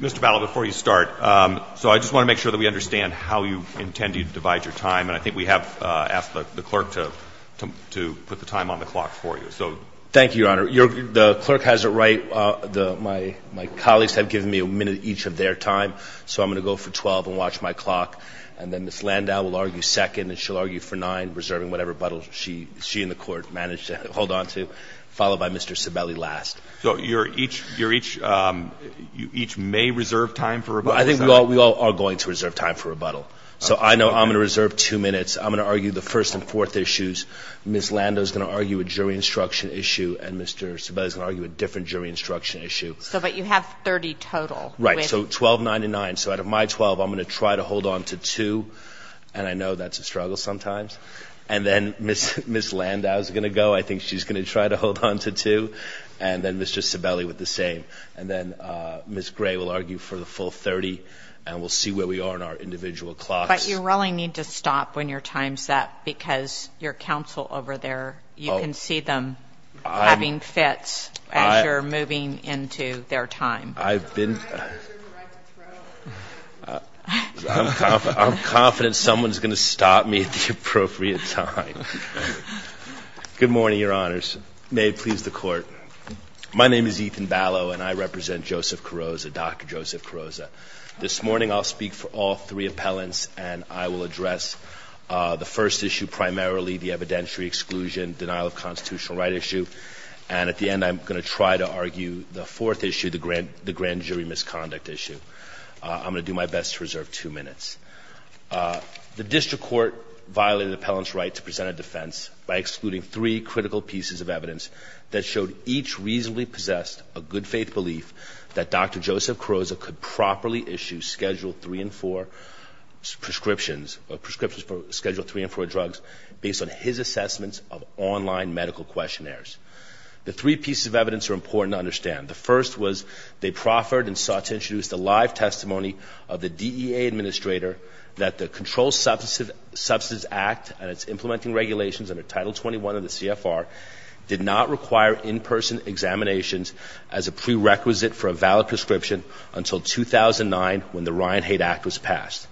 Mr. Battle, before you start, so I just want to make sure that we understand how you intend to divide your time, and I think we have asked the clerk to put the time on the clock for you. Thank you, Your Honor. The clerk has it right. My colleagues have given me a minute each of their time, so I'm going to go for 12 and watch my clock. And then Ms. Landau will argue second, and she'll argue for nine, reserving whatever buttle she and the court managed to hold onto, followed by Mr. Sibeli last. So each may reserve time for rebuttal? I think we all are going to reserve time for rebuttal, so I know I'm going to reserve two minutes. I'm going to argue the first and fourth issues. Ms. Landau is going to argue a jury instruction issue, and Mr. Sibeli is going to argue a different jury instruction issue. But you have 30 total. Right, so 12, nine, and nine. So out of my 12, I'm going to try to hold onto two, and I know that's a struggle sometimes. And then Ms. Landau is going to go. I think she's going to try to hold onto two, and then Mr. Sibeli with the same. And then Ms. Gray will argue for the full 30, and we'll see where we are on our individual clocks. But you really need to stop when your time's up, because your counsel over there, you can see them having fits as you're moving into their time. I'm confident someone's going to stop me at the appropriate time. Good morning, Your Honors. May it please the Court. My name is Ethan Ballo, and I represent Joseph Carrozza, Dr. Joseph Carrozza. This morning I'll speak for all three appellants, and I will address the first issue primarily, the evidentiary exclusion, denial of constitutional right issue. And at the end, I'm going to try to argue the fourth issue, the grand jury misconduct issue. I'm going to do my best to reserve two minutes. The district court violated the appellant's right to present a defense by excluding three critical pieces of evidence that showed each reasonably possessed a good faith belief that Dr. Joseph Carrozza could properly issue Schedule 3 and 4 prescriptions, or prescriptions for Schedule 3 and 4 drugs, based on his assessments of online medical questionnaires. The three pieces of evidence are important to understand. The first was they proffered and sought to introduce the live testimony of the DEA administrator that the Controlled Substances Act and its implementing regulations under Title 21 of the CFR did not require in-person examinations as a prerequisite for a valid prescription until 2009, when the Ryan Haight Act was passed.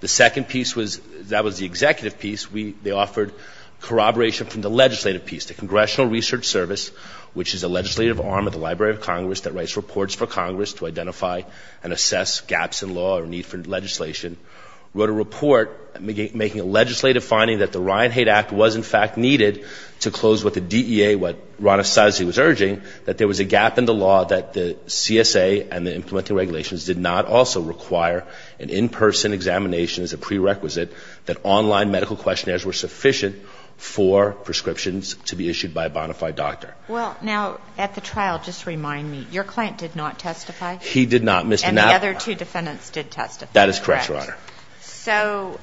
The second piece was that was the executive piece. They offered corroboration from the legislative piece. The Congressional Research Service, which is a legislative arm of the Library of Congress that writes reports for Congress to identify and assess gaps in law or need for legislation, wrote a report making a legislative finding that the Ryan Haight Act was, in fact, needed to close what the DEA, what Rana Saizy was urging, that there was a gap in the law that the CSA and the implementing regulations did not also require an in-person examination as a prerequisite that online medical questionnaires were sufficient for prescriptions to be issued by a bona fide doctor. Well, now, at the trial, just remind me, your client did not testify? He did not, Mr. Navarro. And the other two defendants did testify, correct? That is correct, Your Honor. So,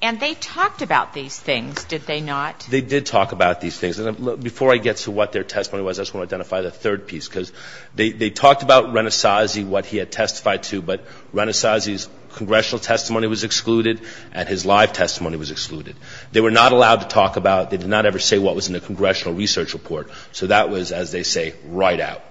and they talked about these things, did they not? They did talk about these things. Before I get to what their testimony was, I just want to identify the third piece, because they talked about Rana Saizy, what he had testified to, but Rana Saizy's congressional testimony was excluded and his live testimony was excluded. They were not allowed to talk about, they did not ever say what was in the congressional research report. So that was, as they say, right out.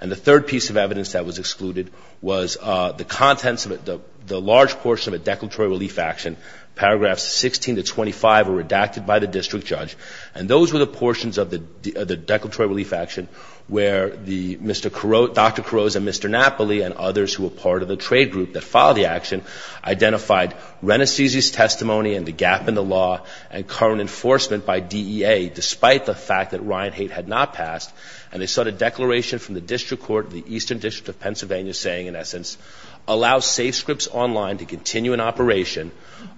And the third piece of evidence that was excluded was the contents of it, the large portion of a declaratory relief action, paragraphs 16 to 25 were redacted by the district judge, and those were the portions of the declaratory relief action where the Mr. Caroz, Dr. Caroz and Mr. Napoli and others who were part of the trade group that filed the action identified Rana Saizy's testimony and the gap in the law and current enforcement by DEA, despite the fact that Ryan Haight had not passed, and they sought a declaration from the district court of the Eastern District of Pennsylvania saying, in essence, allow SafeScripts Online to continue in operation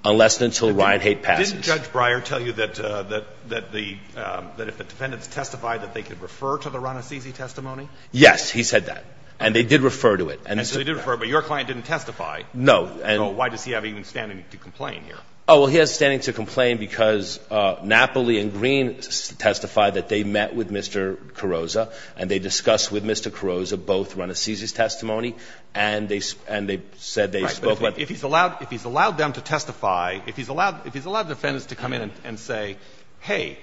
unless and until Ryan Haight passes. But didn't Judge Breyer tell you that the, that if the defendants testified that they could refer to the Rana Saizy testimony? Yes, he said that. And they did refer to it. And so they did refer, but your client didn't testify. No. So why does he have even standing to complain here? Oh, well, he has standing to complain because Napoli and Green testified that they met with Mr. Caroz, and they discussed with Mr. Caroz both Rana Saizy's testimony, and they said they spoke with him. If he's allowed them to testify, if he's allowed defendants to come in and say, hey,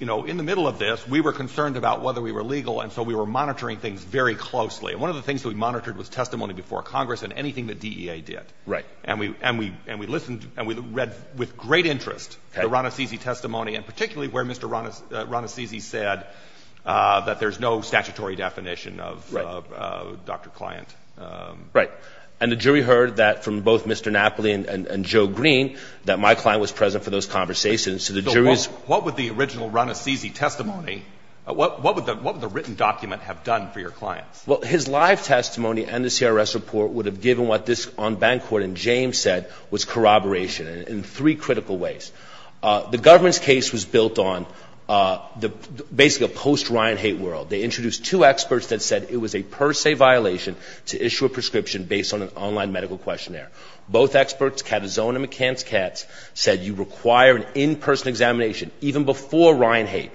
you know, in the middle of this, we were concerned about whether we were legal, and so we were monitoring things very closely. And one of the things that we monitored was testimony before Congress and anything that DEA did. Right. And we listened and we read with great interest the Rana Saizy testimony, and particularly where Mr. Rana Saizy said that there's no statutory definition of Dr. Client. Right. And the jury heard that from both Mr. Napoli and Joe Green, that my client was present for those conversations. So the jury's – So what would the original Rana Saizy testimony, what would the written document have done for your clients? Well, his live testimony and the CRS report would have given what this on-bank court in James said was corroboration in three critical ways. The government's case was built on basically a post-Ryan hate world. They introduced two experts that said it was a per se violation to issue a prescription based on an online medical questionnaire. Both experts, Katazon and McCance-Katz, said you require an in-person examination even before Ryan hate.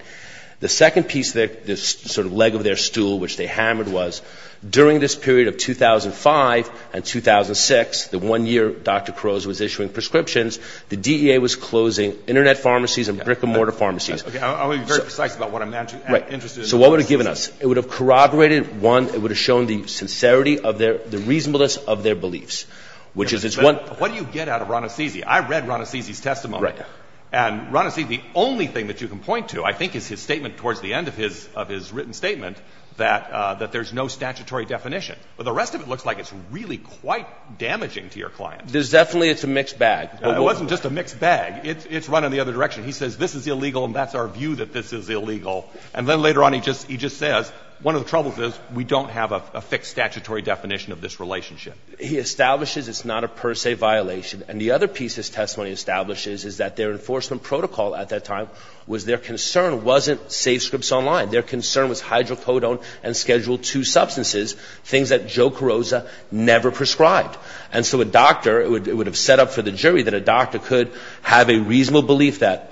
The second piece, the sort of leg of their stool which they hammered was, during this period of 2005 and 2006, the one year Dr. Caroz was issuing prescriptions, the DEA was closing internet pharmacies and brick-and-mortar pharmacies. I'll be very precise about what I'm interested in. So what would it have given us? It would have corroborated, one, it would have shown the sincerity of their – the reasonableness of their beliefs, which is it's one – What do you get out of Rana Saizy? I read Rana Saizy's testimony. Right. And Rana Saizy, the only thing that you can point to I think is his statement towards the end of his written statement that there's no statutory definition. But the rest of it looks like it's really quite damaging to your clients. There's definitely – it's a mixed bag. It wasn't just a mixed bag. It's run in the other direction. He says this is illegal and that's our view that this is illegal. And then later on he just says one of the troubles is we don't have a fixed statutory definition of this relationship. He establishes it's not a per se violation. And the other piece his testimony establishes is that their enforcement protocol at that time was their concern wasn't safe scripts online. Their concern was hydrocodone and Schedule II substances, things that Joe Carrozza never prescribed. And so a doctor – it would have set up for the jury that a doctor could have a reasonable belief that –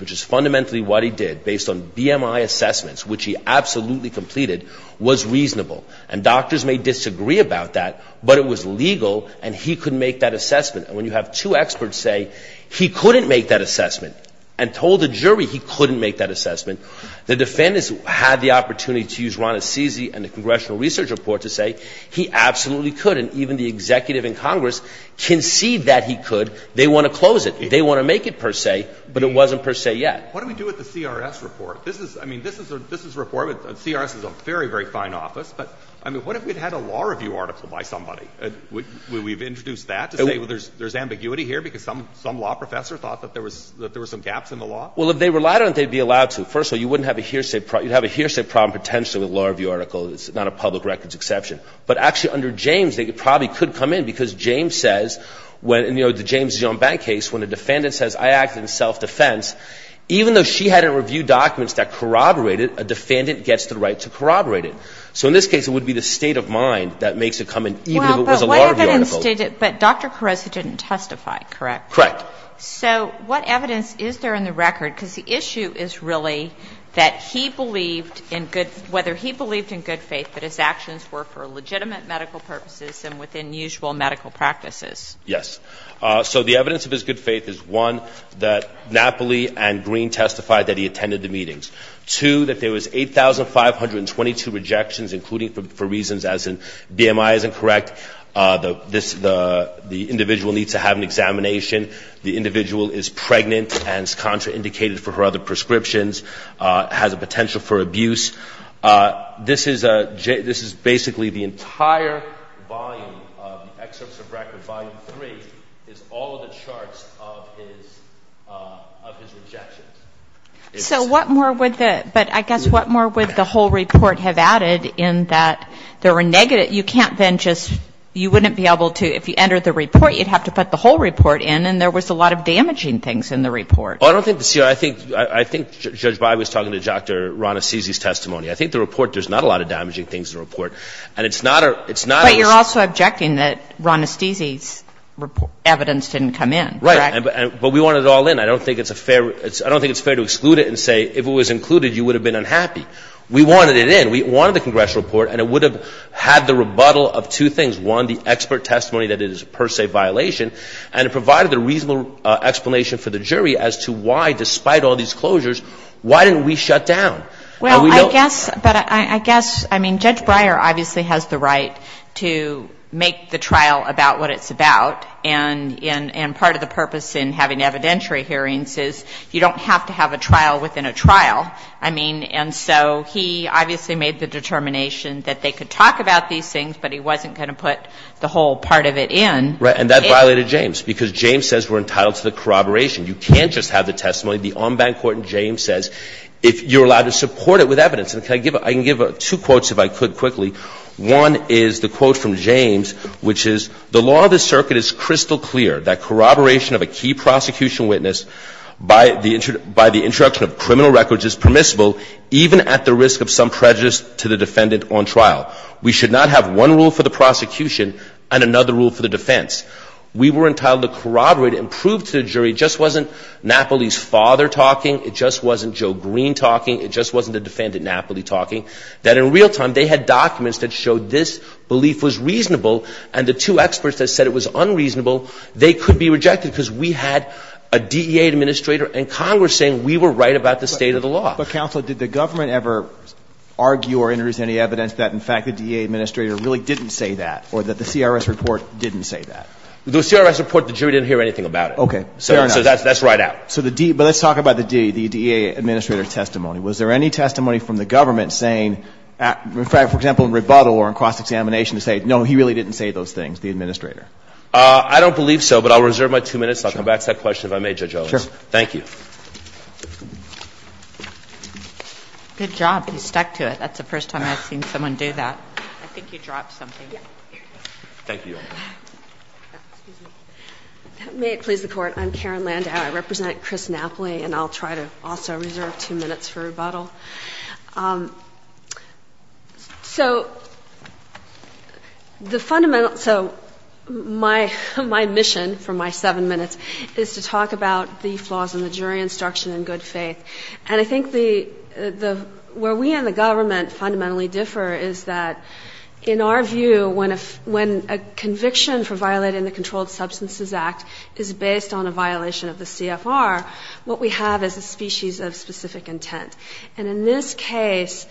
which is fundamentally what he did based on BMI assessments, which he absolutely completed, was reasonable. And doctors may disagree about that, but it was legal and he could make that assessment. And when you have two experts say he couldn't make that assessment and told the jury he couldn't make that assessment, the defendants had the opportunity to use Rana Saizy and the congressional research report to say he absolutely could. And even the executive in Congress conceded that he could. They want to close it. They want to make it per se, but it wasn't per se yet. What do we do with the CRS report? This is – I mean, this is a report. CRS is a very, very fine office. But, I mean, what if we'd had a law review article by somebody? Would we have introduced that to say, well, there's ambiguity here because some law professor thought that there was some gaps in the law? Well, if they relied on it, they'd be allowed to. First of all, you wouldn't have a hearsay – you'd have a hearsay problem potentially with a law review article. It's not a public records exception. But actually, under James, they probably could come in because James says, when – you know, the James Zeon Bank case, when a defendant says, I act in self-defense, even though she had to review documents that corroborated, a defendant gets the right to corroborate it. So in this case, it would be the state of mind that makes it come in, even if it was a law review article. Well, but what evidence did it – but Dr. Carozzi didn't testify, correct? Correct. So what evidence is there in the record? Because the issue is really that he believed in good – whether he believed in good faith that his actions were for legitimate medical purposes and within usual medical practices. Yes. So the evidence of his good faith is, one, that Napoli and Green testified that he attended the meetings. Two, that there was 8,522 rejections, including for reasons as in BMI isn't correct, the individual needs to have an examination, the individual is pregnant and is contraindicated for her other prescriptions, has a potential for abuse. This is a – this is basically the entire volume of the excerpts of record. Volume three is all of the charts of his – of his rejections. So what more would the – but I guess what more would the whole report have added in that there were negative – that you can't then just – you wouldn't be able to – if you entered the report, you'd have to put the whole report in and there was a lot of damaging things in the report. Well, I don't think the – I think Judge Breyer was talking to Dr. Ronestizzi's testimony. I think the report – there's not a lot of damaging things in the report. And it's not a – it's not a – But you're also objecting that Ronestizzi's evidence didn't come in, correct? Right. But we wanted it all in. I don't think it's a fair – I don't think it's fair to exclude it and say if it was included, you would have been unhappy. We wanted it in. We wanted the congressional report, and it would have had the rebuttal of two things. One, the expert testimony that it is a per se violation. And it provided the reasonable explanation for the jury as to why, despite all these closures, why didn't we shut down? Well, I guess – but I guess – I mean, Judge Breyer obviously has the right to make the trial about what it's about. And part of the purpose in having evidentiary hearings is you don't have to have a trial within a trial. I mean, and so he obviously made the determination that they could talk about these things, but he wasn't going to put the whole part of it in. Right. And that violated James, because James says we're entitled to the corroboration. You can't just have the testimony. The en banc court in James says if you're allowed to support it with evidence. And can I give – I can give two quotes, if I could, quickly. One is the quote from James, which is, The law of the circuit is crystal clear that corroboration of a key prosecution witness by the introduction of criminal records is permissible even at the risk of some prejudice to the defendant on trial. We should not have one rule for the prosecution and another rule for the defense. We were entitled to corroborate and prove to the jury it just wasn't Napoli's father talking, it just wasn't Joe Green talking, it just wasn't the defendant Napoli talking, that in real time they had documents that showed this belief was reasonable and the two experts that said it was unreasonable, they could be rejected because we had a DEA administrator and Congress saying we were right about the state of the law. But, counsel, did the government ever argue or introduce any evidence that in fact the DEA administrator really didn't say that or that the CRS report didn't say that? The CRS report, the jury didn't hear anything about it. Okay. Fair enough. So that's right out. So the D – but let's talk about the D, the DEA administrator's testimony. Was there any testimony from the government saying – for example, in rebuttal or in cross-examination to say, no, he really didn't say those things, the administrator? I don't believe so, but I'll reserve my two minutes. Sure. I'll come back to that question if I may, Judge Owens. Sure. Thank you. Good job. You stuck to it. That's the first time I've seen someone do that. I think you dropped something. Thank you. May it please the Court. I'm Karen Landau. I represent Chris Napoli, and I'll try to also reserve two minutes for rebuttal. So the fundamental – so my mission for my seven minutes is to talk about the flaws in the jury instruction in good faith. And I think the – where we and the government fundamentally differ is that in our view, when a conviction for violating the Controlled Substances Act is based on a violation of the CFR, what we have is a species of specific intent. And in this case,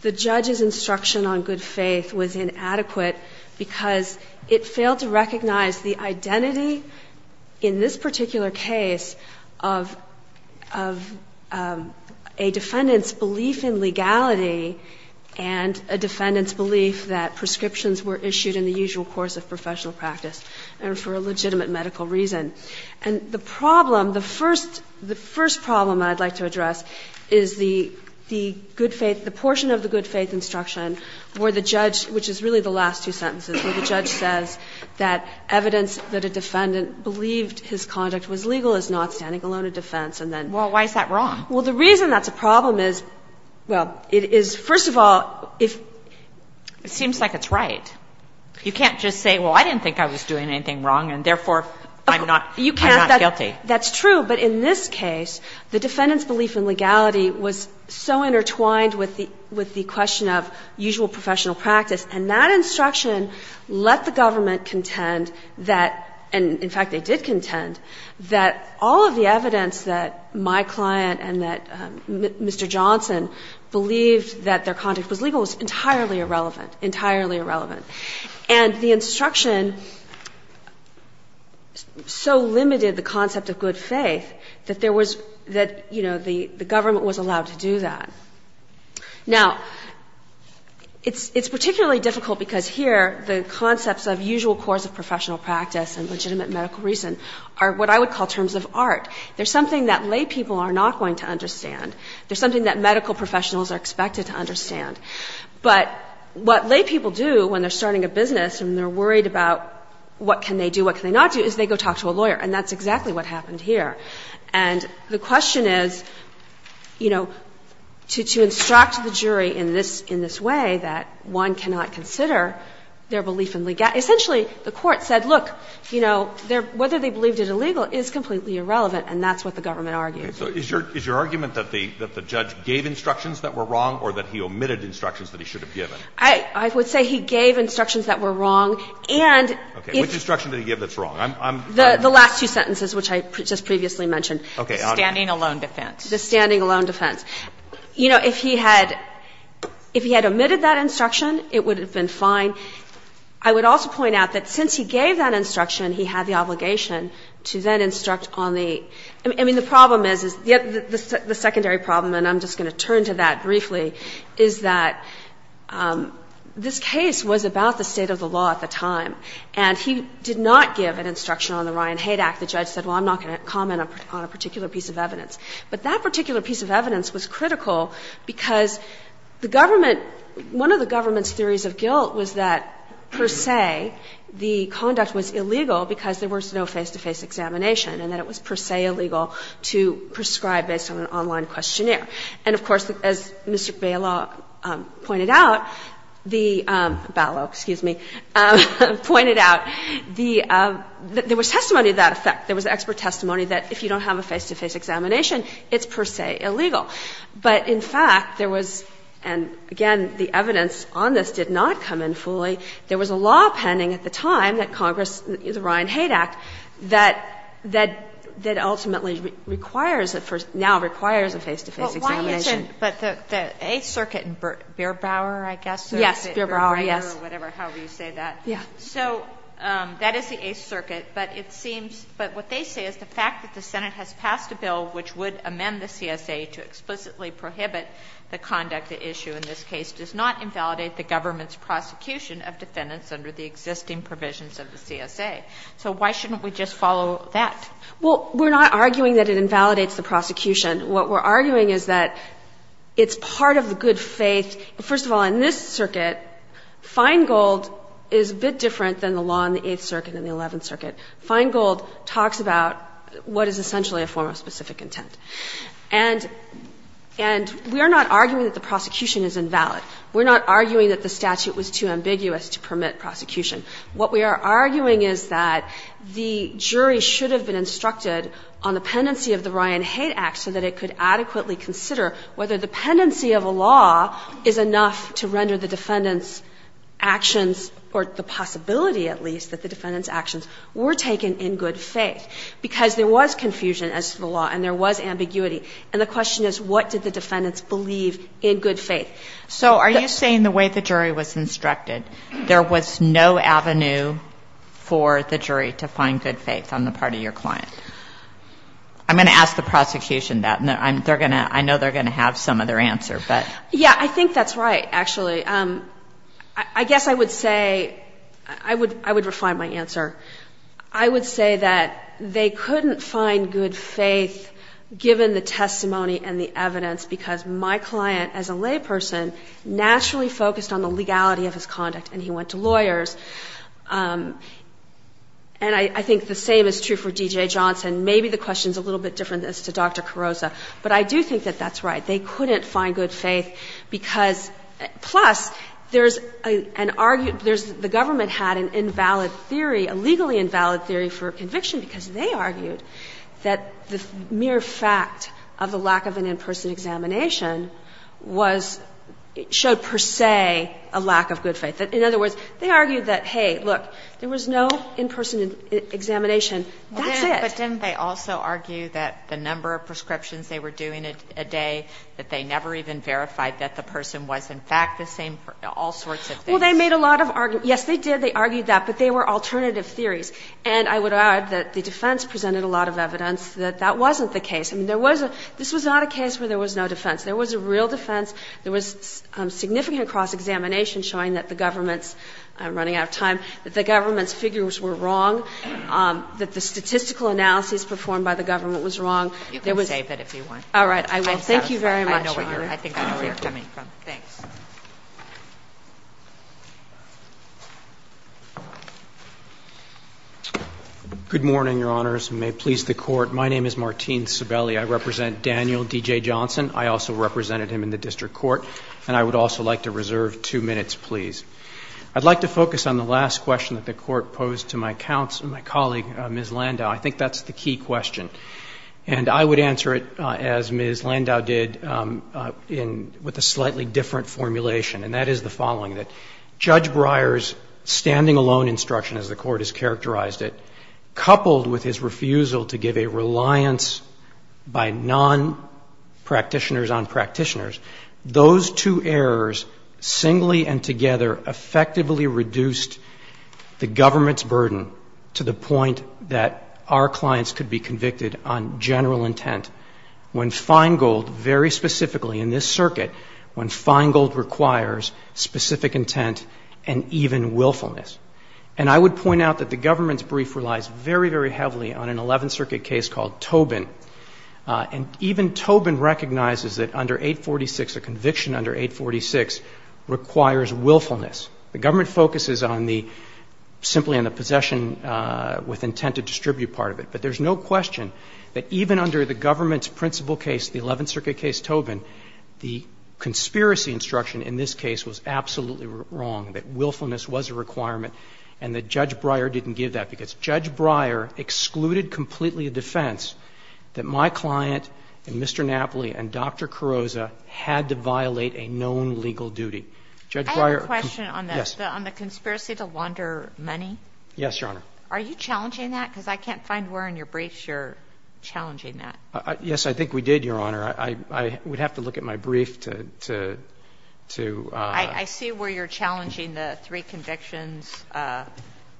the judge's instruction on good faith was inadequate because it failed to recognize the identity in this particular case of a defendant's belief in legality and a defendant's belief that prescriptions were issued in the usual course of professional practice and for a legitimate medical reason. And the problem – the first problem I'd like to address is the good faith – the portion of the good faith instruction where the judge – which is really the last two sentences – where the judge says that evidence that a defendant believed his conduct was legal is not standing alone in defense. And then – Well, why is that wrong? Well, the reason that's a problem is – well, it is – first of all, if – It seems like it's right. You can't just say, well, I didn't think I was doing anything wrong, and therefore, I'm not guilty. That's true. But in this case, the defendant's belief in legality was so intertwined with the question of usual professional practice. And that instruction let the government contend that – and in fact, they did contend – that all of the evidence that my client and that Mr. Johnson believed that their And the instruction so limited the concept of good faith that there was – that, you know, the government was allowed to do that. Now, it's particularly difficult because here the concepts of usual course of professional practice and legitimate medical reason are what I would call terms of art. They're something that lay people are not going to understand. They're something that medical professionals are expected to understand. But what lay people do when they're starting a business and they're worried about what can they do, what can they not do, is they go talk to a lawyer. And that's exactly what happened here. And the question is, you know, to instruct the jury in this – in this way that one cannot consider their belief in – essentially, the Court said, look, you know, whether they believed it illegal is completely irrelevant, and that's what the government argued. Okay. So is your – is your argument that the – that the judge gave instructions that were wrong or that he omitted instructions that he should have given? I would say he gave instructions that were wrong, and if – Okay. Which instruction did he give that's wrong? I'm – I'm – The last two sentences, which I just previously mentioned. Okay. The standing alone defense. The standing alone defense. You know, if he had – if he had omitted that instruction, it would have been fine. I would also point out that since he gave that instruction, he had the obligation to then instruct on the – I mean, the problem is, is the – the secondary problem, and I'm just going to turn to that briefly, is that this case was about the state of the law at the time. And he did not give an instruction on the Ryan-Haidt Act. The judge said, well, I'm not going to comment on a particular piece of evidence. But that particular piece of evidence was critical because the government – one of the government's theories of guilt was that, per se, the conduct was illegal because there was no face-to-face examination, and that it was per se illegal to prescribe based on an online questionnaire. And, of course, as Mr. Bailaw pointed out, the – Bailow, excuse me – pointed out the – there was testimony to that effect. There was expert testimony that if you don't have a face-to-face examination, it's per se illegal. But, in fact, there was – and, again, the evidence on this did not come in fully. There was a law pending at the time, that Congress – the Ryan-Haidt Act, that ultimately requires a – now requires a face-to-face examination. Kagan. But why isn't – but the Eighth Circuit in Beerbrower, I guess? Yes. Beerbrower, yes. Whatever, however you say that. Yeah. So that is the Eighth Circuit. But it seems – but what they say is the fact that the Senate has passed a bill which would amend the CSA to explicitly prohibit the conduct at issue in this case does not invalidate the government's prosecution of defendants under the existing provisions of the CSA. So why shouldn't we just follow that? Well, we're not arguing that it invalidates the prosecution. What we're arguing is that it's part of the good faith. First of all, in this circuit, Feingold is a bit different than the law in the Eighth Circuit and the Eleventh Circuit. Feingold talks about what is essentially a form of specific intent. And we are not arguing that the prosecution is invalid. We're not arguing that the statute was too ambiguous to permit prosecution. What we are arguing is that the jury should have been instructed on the pendency of the Ryan Hate Act so that it could adequately consider whether the pendency of a law is enough to render the defendant's actions or the possibility, at least, that the defendant's actions were taken in good faith, because there was confusion as to the law and there was ambiguity. And the question is, what did the defendants believe in good faith? So are you saying the way the jury was instructed, there was no avenue for the jury to find good faith on the part of your client? I'm going to ask the prosecution that, and I know they're going to have some other answer, but. Yeah, I think that's right, actually. I guess I would say, I would refine my answer. I would say that they couldn't find good faith given the testimony and the evidence because my client, as a layperson, naturally focused on the legality of his conduct and he went to lawyers. And I think the same is true for D.J. Johnson. Maybe the question is a little bit different as to Dr. Carrozza, but I do think that that's right. They couldn't find good faith because, plus, there's an argument, there's, the government had an invalid theory, a legally invalid theory for conviction because they argued that the mere fact of the lack of an in-person examination was, showed per se a lack of good faith. In other words, they argued that, hey, look, there was no in-person examination. That's it. But didn't they also argue that the number of prescriptions they were doing a day, that they never even verified that the person was, in fact, the same for all sorts of things? Well, they made a lot of arguments. Yes, they did. They argued that, but they were alternative theories. And I would add that the defense presented a lot of evidence that that wasn't the case. I mean, there was a, this was not a case where there was no defense. There was a real defense. There was significant cross-examination showing that the government's, I'm running out of time, that the government's figures were wrong, that the statistical analysis performed by the government was wrong. There was. You can save it if you want. All right. I will. Thank you very much, Your Honor. I think I know where you're coming from. Thanks. Good morning, Your Honors, and may it please the Court. My name is Martin Cibeli. I represent Daniel D.J. Johnson. I also represented him in the District Court. And I would also like to reserve two minutes, please. I'd like to focus on the last question that the Court posed to my colleague, Ms. Landau. I think that's the key question. And I would answer it, as Ms. Landau did, in, with a slightly different formulation. And that is the following, that Judge Breyer's standing alone instruction, as the Court has characterized it, coupled with his refusal to give a reliance by non-practitioners on practitioners, those two errors singly and together effectively reduced the government's burden to the point that our clients could be convicted on general intent when fine gold, very specifically in this circuit, when fine gold requires specific intent and even willfulness. And I would point out that the government's brief relies very, very heavily on an Eleventh Circuit case called Tobin. And even Tobin recognizes that under 846, a conviction under 846 requires willfulness. The government focuses on the, simply on the possession with intent to distribute part of it. But there's no question that even under the government's principal case, the Eleventh Circuit case Tobin, the conspiracy instruction in this case was absolutely wrong, that willfulness was a requirement and that Judge Breyer didn't give that, because Judge Breyer excluded completely a defense that my client and Mr. Napoli and Dr. Carrozza had to violate a known legal duty. Judge Breyer, yes. I have a question on the conspiracy to launder money. Yes, Your Honor. Are you challenging that? Because I can't find where in your briefs you're challenging that. Yes, I think we did, Your Honor. I would have to look at my brief to, to, to. I see where you're challenging the three convictions,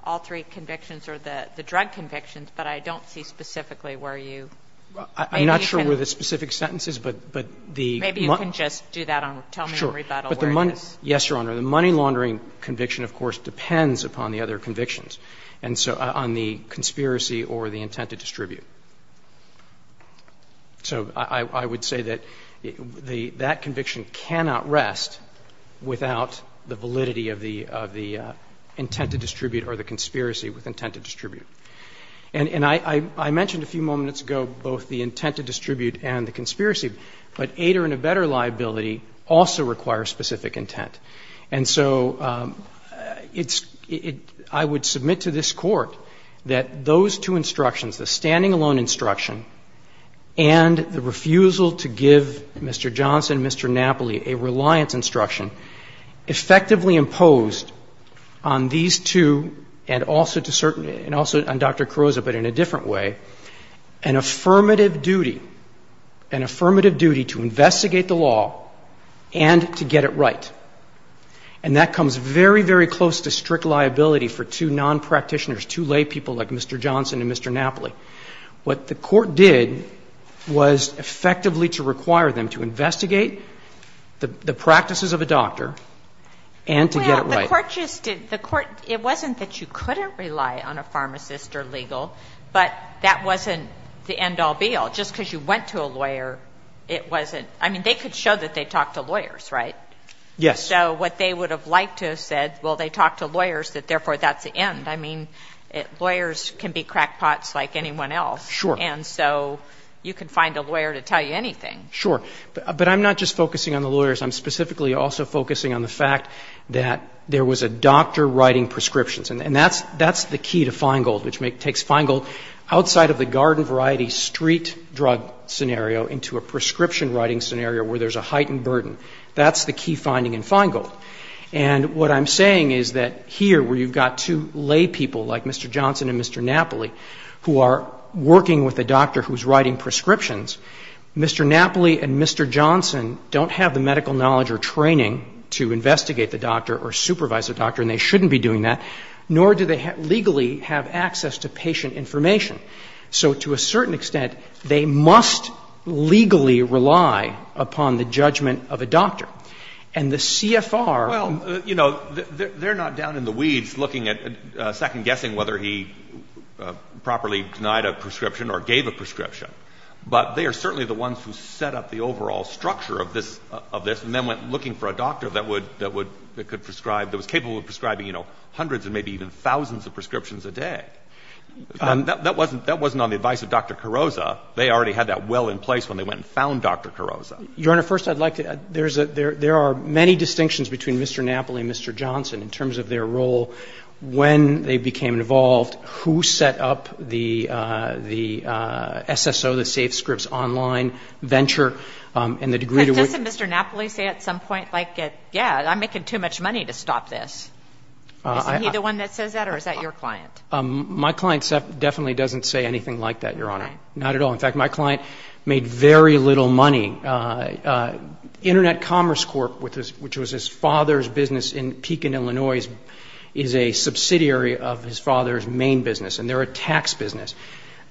all three convictions or the drug convictions, but I don't see specifically where you. I'm not sure where the specific sentence is, but the. Maybe you can just do that and tell me in rebuttal where it is. Yes, Your Honor. The money laundering conviction, of course, depends upon the other convictions. And so on the conspiracy or the intent to distribute. So I, I would say that the, that conviction cannot rest without the validity of the, of the intent to distribute or the conspiracy with intent to distribute. And, and I, I, I mentioned a few moments ago both the intent to distribute and the conspiracy, but aid or in a better liability also requires specific intent. And so it's, it, I would submit to this Court that those two instructions, the standing alone instruction and the refusal to give Mr. Johnson, Mr. Napoli, a reliance instruction effectively imposed on these two and also to certain, and also on Dr. Carozza, but in a different way, an affirmative duty, an affirmative duty to investigate the law and to get it right. And that comes very, very close to strict liability for two non-practitioners, two lay people like Mr. Johnson and Mr. Napoli. What the Court did was effectively to require them to investigate the, the practices of a doctor and to get it right. Well, the Court just did, the Court, it wasn't that you couldn't rely on a pharmacist or legal, but that wasn't the end all, be all. Just because you went to a lawyer, it wasn't, I mean, they could show that they talked to lawyers, right? Yes. So what they would have liked to have said, well, they talked to lawyers, that therefore that's the end. I mean, lawyers can be crackpots like anyone else. Sure. And so you can find a lawyer to tell you anything. Sure. But I'm not just focusing on the lawyers. I'm specifically also focusing on the fact that there was a doctor writing prescriptions. And that's, that's the key to Feingold, which takes Feingold outside of the garden variety street drug scenario into a prescription writing scenario where there's a heightened burden. That's the key finding in Feingold. And what I'm saying is that here where you've got two lay people, like Mr. Johnson and Mr. Napoli, who are working with a doctor who's writing prescriptions, Mr. Napoli and Mr. Johnson don't have the medical knowledge or training to investigate the doctor or supervise the doctor, and they shouldn't be doing that, nor do they legally have access to patient information. So to a certain extent, they must legally rely upon the judgment of a doctor. And the CFR — Well, you know, they're not down in the weeds looking at, second-guessing whether he properly denied a prescription or gave a prescription. But they are certainly the ones who set up the overall structure of this, and then went looking for a doctor that would, that could prescribe, that was capable of prescribing, you know, hundreds and maybe even thousands of prescriptions a day. That wasn't on the advice of Dr. Carrozza. They already had that well in place when they went and found Dr. Carrozza. Your Honor, first I'd like to — there are many distinctions between Mr. Napoli and Mr. Johnson in terms of their role. When they became involved, who set up the SSO, the SafeScripts online venture, and the degree to which — But doesn't Mr. Napoli say at some point, like, yeah, I'm making too much money to stop this? Is he the one that says that, or is that your client? My client definitely doesn't say anything like that, Your Honor. Not at all. In fact, my client made very little money. Internet Commerce Corp, which was his father's business in Pekin, Illinois, is a subsidiary of his father's main business, and they're a tax business.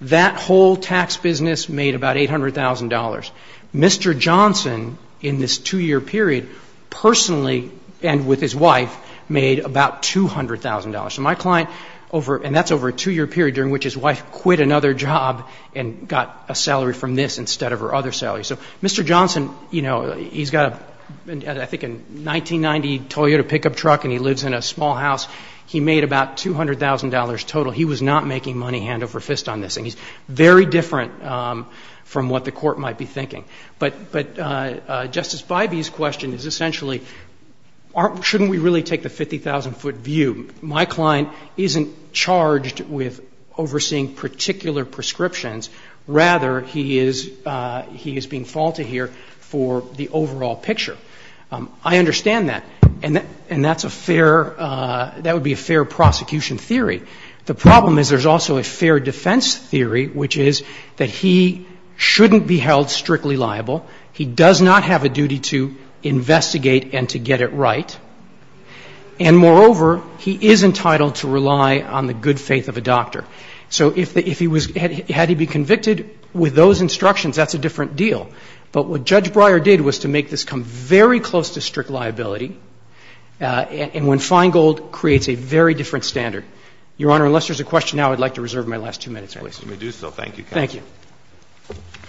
That whole tax business made about $800,000. Mr. Johnson, in this two-year period, personally and with his wife, made about $200,000. So my client over — and that's over a two-year period during which his wife quit another job and got a salary from this instead of her other salary. So Mr. Johnson, you know, he's got a — I think a 1990 Toyota pickup truck, and he lives in a small house. He made about $200,000 total. He was not making money hand over fist on this. And he's very different from what the Court might be thinking. But Justice Bybee's question is essentially, aren't — shouldn't we really take the 50,000-foot view? My client isn't charged with overseeing particular prescriptions. Rather, he is being faulted here for the overall picture. I understand that. And that's a fair — that would be a fair prosecution theory. The problem is there's also a fair defense theory, which is that he shouldn't be held strictly liable. He does not have a duty to investigate and to get it right. And moreover, he is entitled to rely on the good faith of a doctor. So if he was — had he been convicted with those instructions, that's a different deal. But what Judge Breyer did was to make this come very close to strict liability, and when Feingold creates a very different standard. Your Honor, unless there's a question now, I'd like to reserve my last two minutes, please. Let me do so. Thank you, counsel. Thank you. Thank you.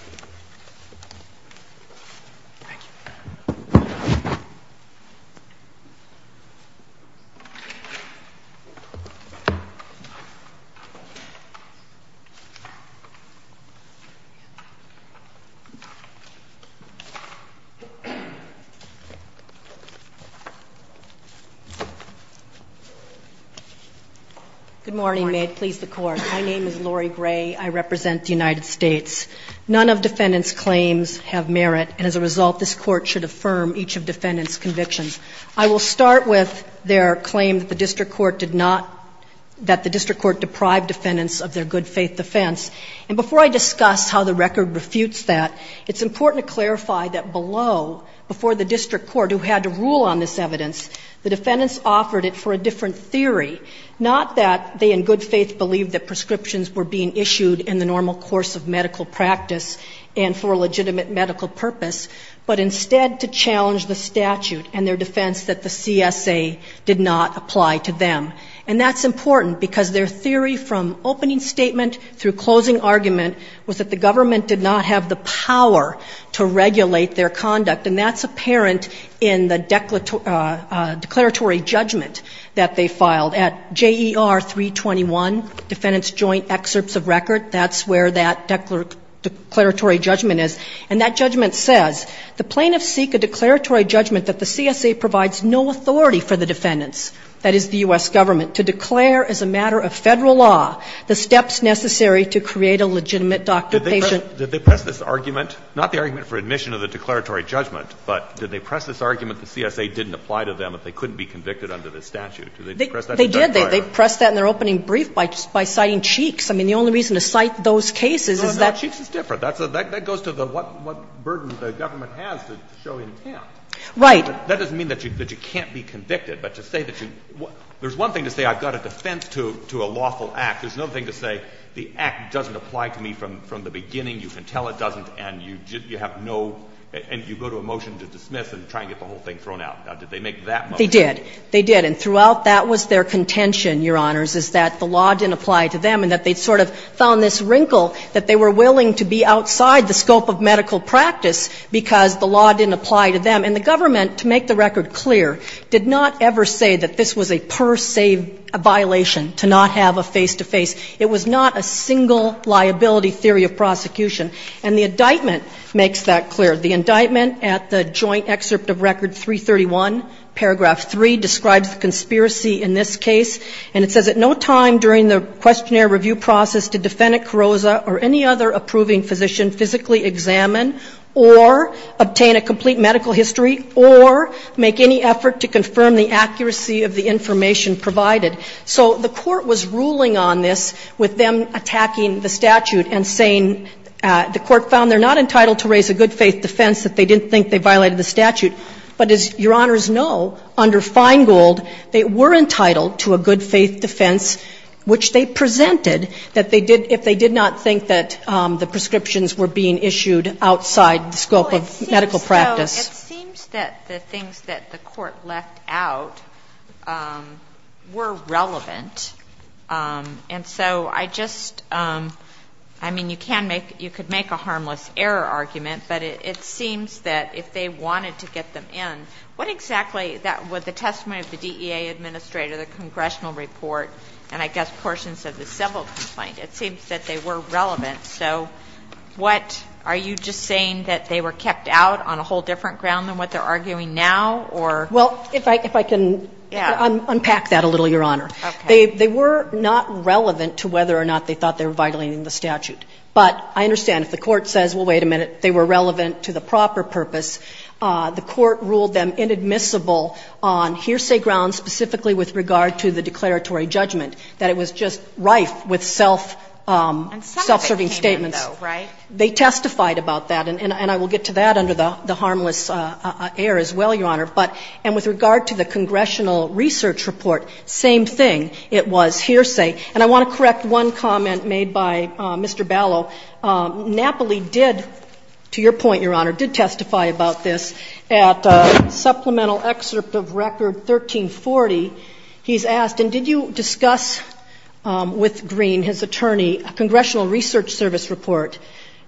Good morning. May it please the Court. My name is Lori Gray. I represent the United States. None of defendants' claims have merit. And as a result, this Court should affirm each of defendants' convictions. I will start with their claim that the district court did not — that the district court deprived defendants of their good faith defense. And before I discuss how the record refutes that, it's important to clarify that below, before the district court, who had to rule on this evidence, the defendants offered it for a different theory, not that they in good faith believed that prescriptions were being issued in the normal course of medical practice and for a legitimate medical purpose, but instead to challenge the statute and their defense that the CSA did not apply to them. And that's important because their theory from opening statement through closing argument was that the government did not have the power to regulate their conduct, and that's apparent in the declaratory judgment that they filed at J.E.R. 321, defendants' joint excerpts of record. That's where that declaratory judgment is. And that judgment says the plaintiffs seek a declaratory judgment that the CSA provides no authority for the defendants, that is, the U.S. Government, to declare as a matter of Federal law the steps necessary to create a legitimate doctor-patient. Did they press this argument, not the argument for admission of the declaratory judgment, but did they press this argument that the CSA didn't apply to them if they couldn't be convicted under the statute? Did they press that in their brief? By citing Cheeks. I mean, the only reason to cite those cases is that they're not. Roberts. Cheeks is different. That goes to what burden the government has to show intent. Right. That doesn't mean that you can't be convicted. But to say that you – there's one thing to say I've got a defense to a lawful act. There's no thing to say the act doesn't apply to me from the beginning. You can tell it doesn't, and you have no – and you go to a motion to dismiss and try and get the whole thing thrown out. Now, did they make that motion? They did. And throughout, that was their contention, Your Honors, is that the law didn't apply to them and that they sort of found this wrinkle that they were willing to be outside the scope of medical practice because the law didn't apply to them. And the government, to make the record clear, did not ever say that this was a per se violation to not have a face-to-face. It was not a single liability theory of prosecution. And the indictment makes that clear. The indictment at the joint excerpt of Record 331, Paragraph 3, describes the conspiracy in this case. And it says, At no time during the questionnaire review process did Defendant Carozza or any other approving physician physically examine or obtain a complete medical history or make any effort to confirm the accuracy of the information provided. So the court was ruling on this with them attacking the statute and saying the defense that they didn't think they violated the statute. But as Your Honors know, under Feingold, they were entitled to a good-faith defense which they presented that they did if they did not think that the prescriptions were being issued outside the scope of medical practice. It seems that the things that the court left out were relevant. And so I just, I mean, you can make, you could make a harmless error argument, but it seems that if they wanted to get them in, what exactly would the testimony of the DEA administrator, the congressional report, and I guess portions of the civil complaint, it seems that they were relevant. So what, are you just saying that they were kept out on a whole different ground than what they're arguing now, or? Well, if I can unpack that a little, Your Honor. Okay. They were not relevant to whether or not they thought they were violating the statute. But I understand if the court says, well, wait a minute, they were relevant to the proper purpose, the court ruled them inadmissible on hearsay grounds specifically with regard to the declaratory judgment, that it was just rife with self-serving statements. And some of it came in, though, right? They testified about that. And I will get to that under the harmless error as well, Your Honor. But, and with regard to the congressional research report, same thing. It was hearsay. And I want to correct one comment made by Mr. Ballot. Napoli did, to your point, Your Honor, did testify about this at supplemental excerpt of record 1340. He's asked, and did you discuss with Green, his attorney, a congressional research service report,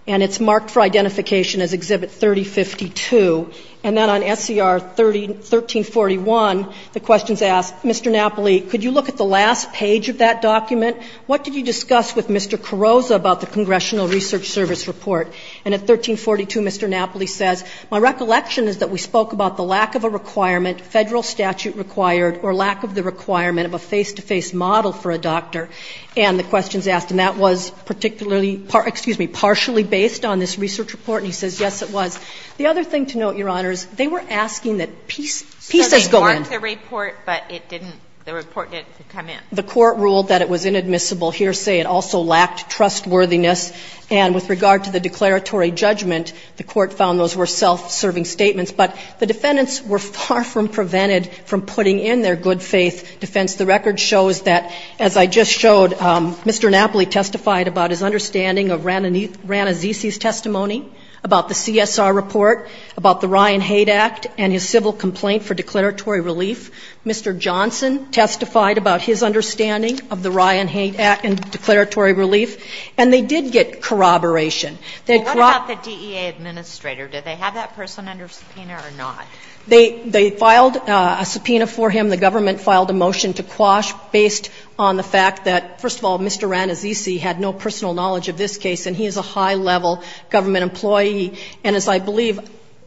and it's marked for identification as Exhibit 3052, and then on SCR 1341, the question's asked, Mr. Napoli, could you look at the last page of that document? What did you discuss with Mr. Carrozza about the congressional research service report? And at 1342, Mr. Napoli says, my recollection is that we spoke about the lack of a requirement, Federal statute required, or lack of the requirement of a face-to-face model for a doctor. And the question's asked, and that was particularly, excuse me, partially based on this research report. And he says, yes, it was. The other thing to note, Your Honor, is they were asking that pieces go in. So they marked the report, but it didn't, the report didn't come in. The Court ruled that it was inadmissible hearsay. It also lacked trustworthiness. And with regard to the declaratory judgment, the Court found those were self-serving statements. But the defendants were far from prevented from putting in their good faith defense. The record shows that, as I just showed, Mr. Napoli testified about his understanding of Ranazzisi's testimony, about the CSR report, about the Ryan Hate Act and his civil complaint for declaratory relief. Mr. Johnson testified about his understanding of the Ryan Hate Act and declaratory relief. And they did get corroboration. They had corroborated. Kagan. But what about the DEA administrator? Did they have that person under subpoena or not? They filed a subpoena for him. The government filed a motion to quash based on the fact that, first of all, Mr. Napoli has a lot of congressional knowledge of this case and he is a high-level government employee. And as I believe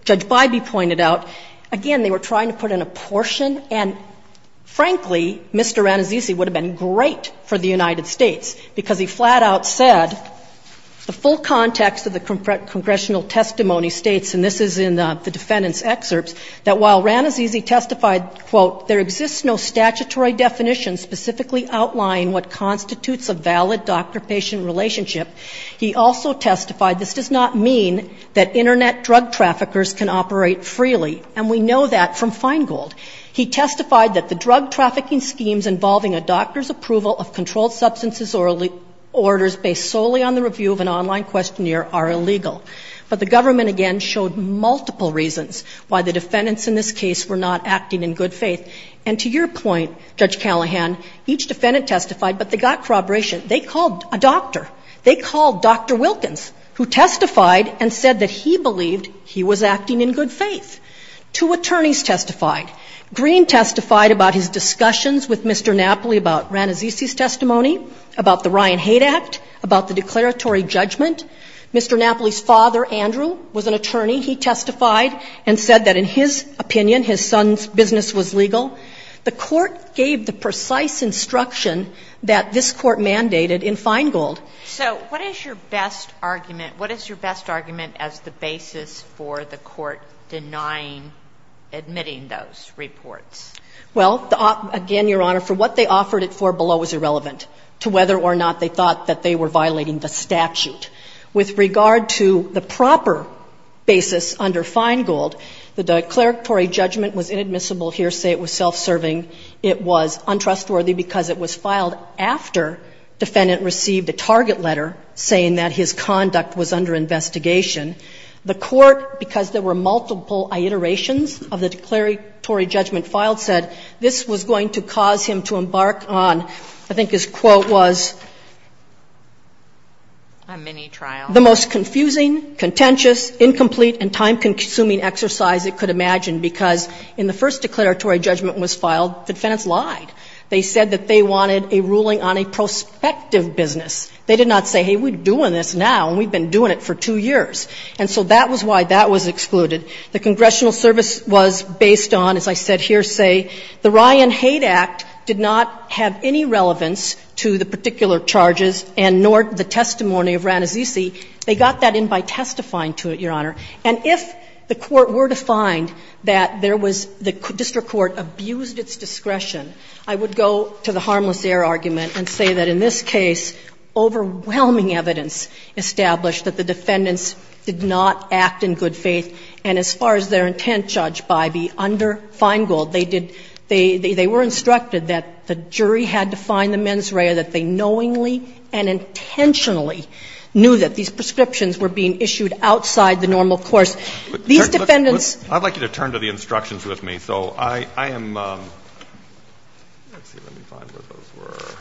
Judge Bybee pointed out, again, they were trying to put in a portion and, frankly, Mr. Ranazzisi would have been great for the United States because he flat-out said the full context of the congressional testimony states, and this is in the defendant's excerpts, that while Ranazzisi testified, quote, there exists no statutory definition specifically outlining what constitutes a valid doctor-patient relationship, he also testified this does not mean that Internet drug traffickers can operate freely. And we know that from Feingold. He testified that the drug trafficking schemes involving a doctor's approval of controlled substances orders based solely on the review of an online questionnaire are illegal. But the government, again, showed multiple reasons why the defendants in this case were not acting in good faith. And to your point, Judge Callahan, each defendant testified, but they got corroboration. They called a doctor. They called Dr. Wilkins, who testified and said that he believed he was acting in good faith. Two attorneys testified. Green testified about his discussions with Mr. Napoli about Ranazzisi's testimony, about the Ryan Hate Act, about the declaratory judgment. Mr. Napoli's father, Andrew, was an attorney. He testified and said that in his opinion, his son's business was legal. The Court gave the precise instruction that this Court mandated in Feingold. So what is your best argument? What is your best argument as the basis for the Court denying, admitting those reports? Well, again, Your Honor, for what they offered it for below is irrelevant to whether or not they thought that they were violating the statute. With regard to the proper basis under Feingold, the declaratory judgment was inadmissible here, say it was self-serving. It was untrustworthy because it was filed after defendant received a target letter saying that his conduct was under investigation. The Court, because there were multiple iterations of the declaratory judgment filed, said this was going to cause him to embark on, I think his quote was, I'm many The most confusing, contentious, incomplete, and time-consuming exercise it could imagine, because in the first declaratory judgment was filed, defendants lied. They said that they wanted a ruling on a prospective business. They did not say, hey, we're doing this now, and we've been doing it for two years. And so that was why that was excluded. The congressional service was based on, as I said here, say, the Ryan Hate Act did not have any relevance to the particular charges and nor the testimony of Ranazino Susi. They got that in by testifying to it, Your Honor. And if the Court were to find that there was the district court abused its discretion, I would go to the harmless error argument and say that in this case, overwhelming evidence established that the defendants did not act in good faith. And as far as their intent, Judge Bybee, under Feingold, they did they were instructed that the jury had to find the mens rea, that they knowingly and intentionally knew that these prescriptions were being issued outside the normal course. These defendants – I'd like you to turn to the instructions with me. So I am – let's see, let me find where those were.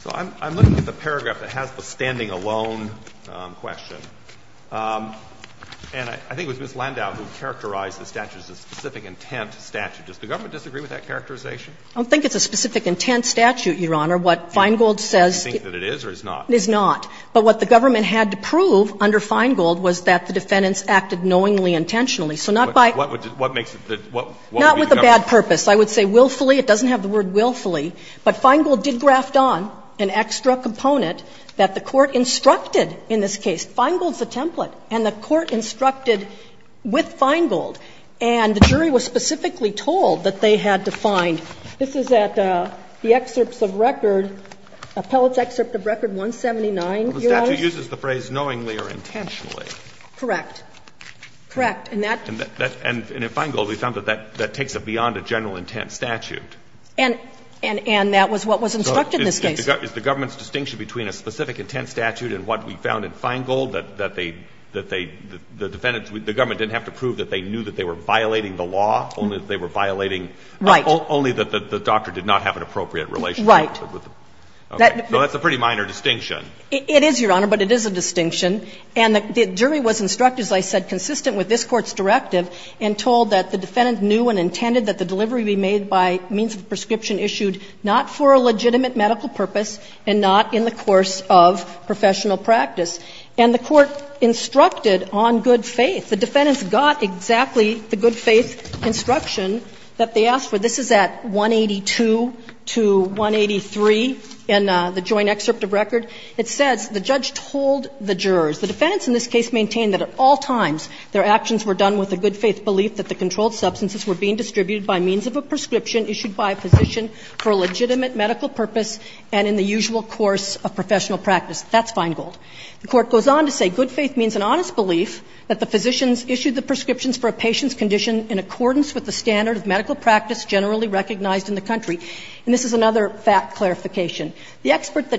So I'm looking at the paragraph that has the standing alone question. And I think it was Ms. Landau who characterized the statute as a specific intent statute. Does the government disagree with that characterization? I don't think it's a specific intent statute, Your Honor. What Feingold says – Do you think that it is or is not? It is not. But what the government had to prove under Feingold was that the defendants acted knowingly, intentionally. So not by – What makes the – what would be the government – Not with a bad purpose. I would say willfully. It doesn't have the word willfully. But Feingold did graft on an extra component that the Court instructed in this case. Feingold's the template. And the Court instructed with Feingold. And the jury was specifically told that they had to find – this is at the excerpts of record, appellate's excerpt of record 179, Your Honor. The statute uses the phrase knowingly or intentionally. Correct. Correct. And that – And in Feingold, we found that that takes it beyond a general intent statute. And that was what was instructed in this case. Is the government's distinction between a specific intent statute and what we found in Feingold, that they – that the defendants – the government didn't have to prove that they knew that they were violating the law, only that they were violating Right. Only that the doctor did not have an appropriate relationship with them? Right. Okay. So that's a pretty minor distinction. It is, Your Honor, but it is a distinction. And the jury was instructed, as I said, consistent with this Court's directive and told that the defendant knew and intended that the delivery be made by means of a prescription issued not for a legitimate medical purpose and not in the course of professional practice. And the Court instructed on good faith. The defendants got exactly the good faith instruction that they asked for. This is at 182 to 183 in the joint excerpt of record. It says the judge told the jurors. The defendants in this case maintained that at all times their actions were done with a good faith belief that the controlled substances were being distributed by means of a prescription issued by a physician for a legitimate medical purpose and in the usual course of professional practice. That's fine gold. The Court goes on to say good faith means an honest belief that the physicians issued the prescriptions for a patient's condition in accordance with the standard of medical practice generally recognized in the country. And this is another fact clarification. The experts